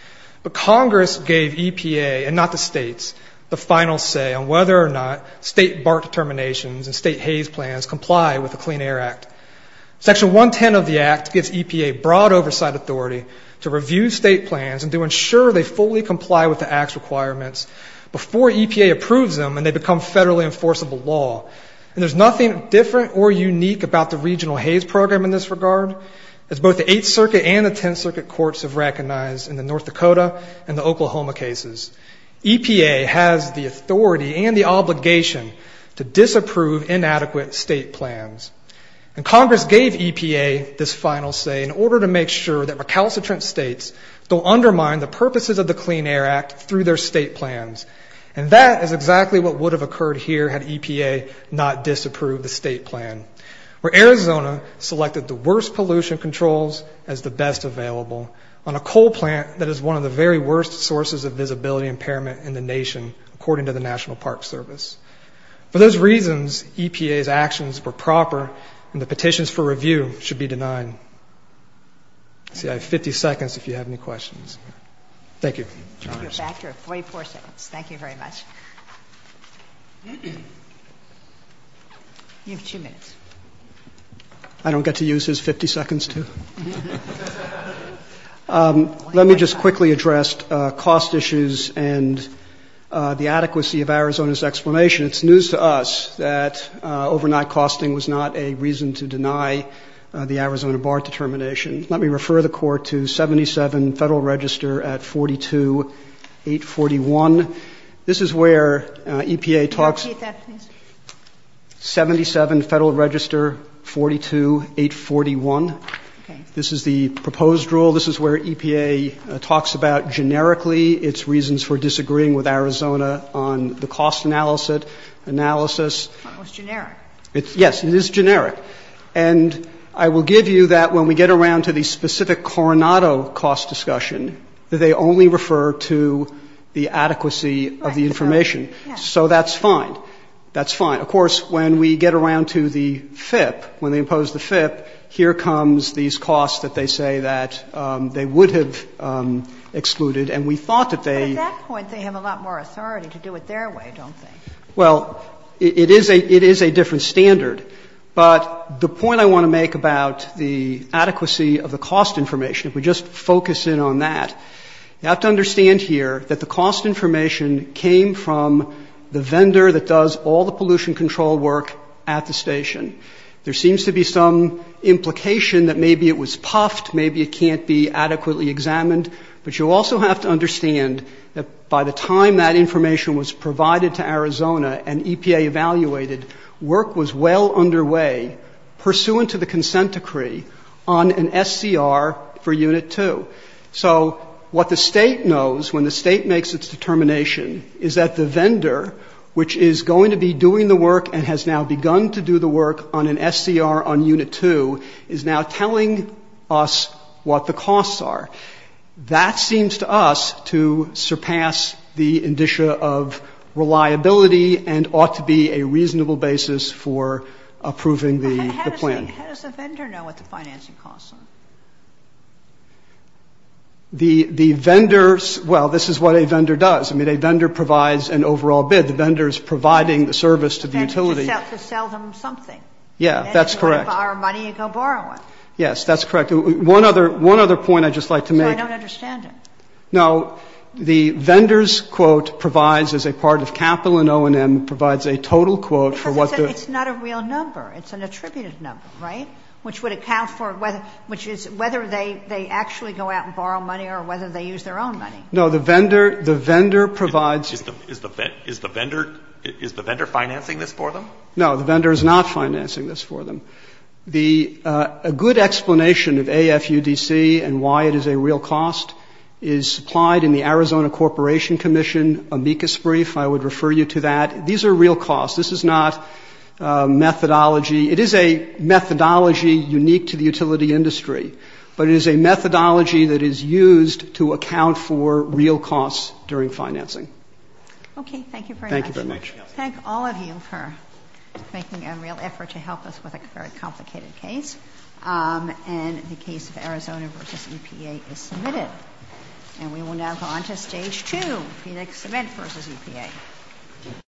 But Congress gave EPA, and not the states, the final say on whether or not state BART determinations and state HAYS plans comply with the Clean Air Act. Section 110 of the Act gives EPA broad oversight authority to review state plans and to ensure they fully comply with the Act's requirements before EPA approves them and they become federally enforceable law. And there's nothing different or unique about the regional HAYS program in this regard, as both the Eighth Circuit and the Tenth Circuit courts have recognized in the North Dakota and the Oklahoma cases. EPA has the authority and the obligation to disapprove inadequate state plans. And Congress gave EPA this final say in order to make sure that recalcitrant states don't undermine the purposes of the Clean Air Act through their state plans. And that is exactly what would have occurred here had EPA not disapproved the state plan, where Arizona selected the worst pollution controls as the best available on a coal plant that is one of the very worst sources of visibility impairment in the nation, according to the National Park Service. For those reasons, EPA's actions were proper, and the petitions for review should be denied. Let's see. I have 50 seconds if you have any questions. Thank you. You're back. You have 44 seconds. Thank you very much. You have two minutes. I don't get to use his 50 seconds, too? Let me just quickly address cost issues and the adequacy of Arizona's explanation. It's news to us that overnight costing was not a reason to deny the Arizona bar determination. Let me refer the Court to 77 Federal Register at 42-841. This is where EPA talks 77 Federal Register 42-841. This is the proposed rule. This is where EPA talks about generically its reasons for disagreeing with Arizona on the cost analysis. It's generic. Yes, it is generic. And I will give you that when we get around to the specific Coronado cost discussion, they only refer to the adequacy of the information. Right. So that's fine. That's fine. Of course, when we get around to the FIP, when they impose the FIP, here comes these costs that they say that they would have excluded, and we thought that they But at that point, they have a lot more authority to do it their way, don't they? Well, it is a different standard. But the point I want to make about the adequacy of the cost information, if we just focus in on that, you have to understand here that the cost information came from the vendor that does all the pollution control work at the station. There seems to be some implication that maybe it was puffed, maybe it can't be adequately examined. But you also have to understand that by the time that information was provided to Arizona and EPA evaluated, work was well underway pursuant to the consent decree on an SCR for Unit 2. So what the State knows when the State makes its determination is that the vendor, which is going to be doing the work and has now begun to do the work on an SCR on Unit 2, is now telling us what the costs are. That seems to us to surpass the indicia of reliability and ought to be a reasonable basis for approving the plan. But how does a vendor know what the financing costs are? The vendors – well, this is what a vendor does. I mean, a vendor provides an overall bid. The vendor is providing the service to the utility. To sell them something. Yeah, that's correct. And they're going to borrow money and go borrow it. Yes, that's correct. One other point I'd just like to make. I don't understand it. No. The vendor's quote provides, as a part of capital and O&M, provides a total quote for what the – Because it's not a real number. It's an attributed number, right? Which would account for – which is whether they actually go out and borrow money or whether they use their own money. No. The vendor provides – Is the vendor financing this for them? The vendor is not financing this for them. A good explanation of AFUDC and why it is a real cost is supplied in the Arizona Corporation Commission amicus brief. I would refer you to that. These are real costs. This is not methodology. It is a methodology unique to the utility industry. But it is a methodology that is used to account for real costs during financing. Okay. Thank you very much. Thank you very much. Thank all of you for making a real effort to help us with a very complicated case. And the case of Arizona v. EPA is submitted. And we will now go on to Stage 2, Phoenix Cement v. EPA.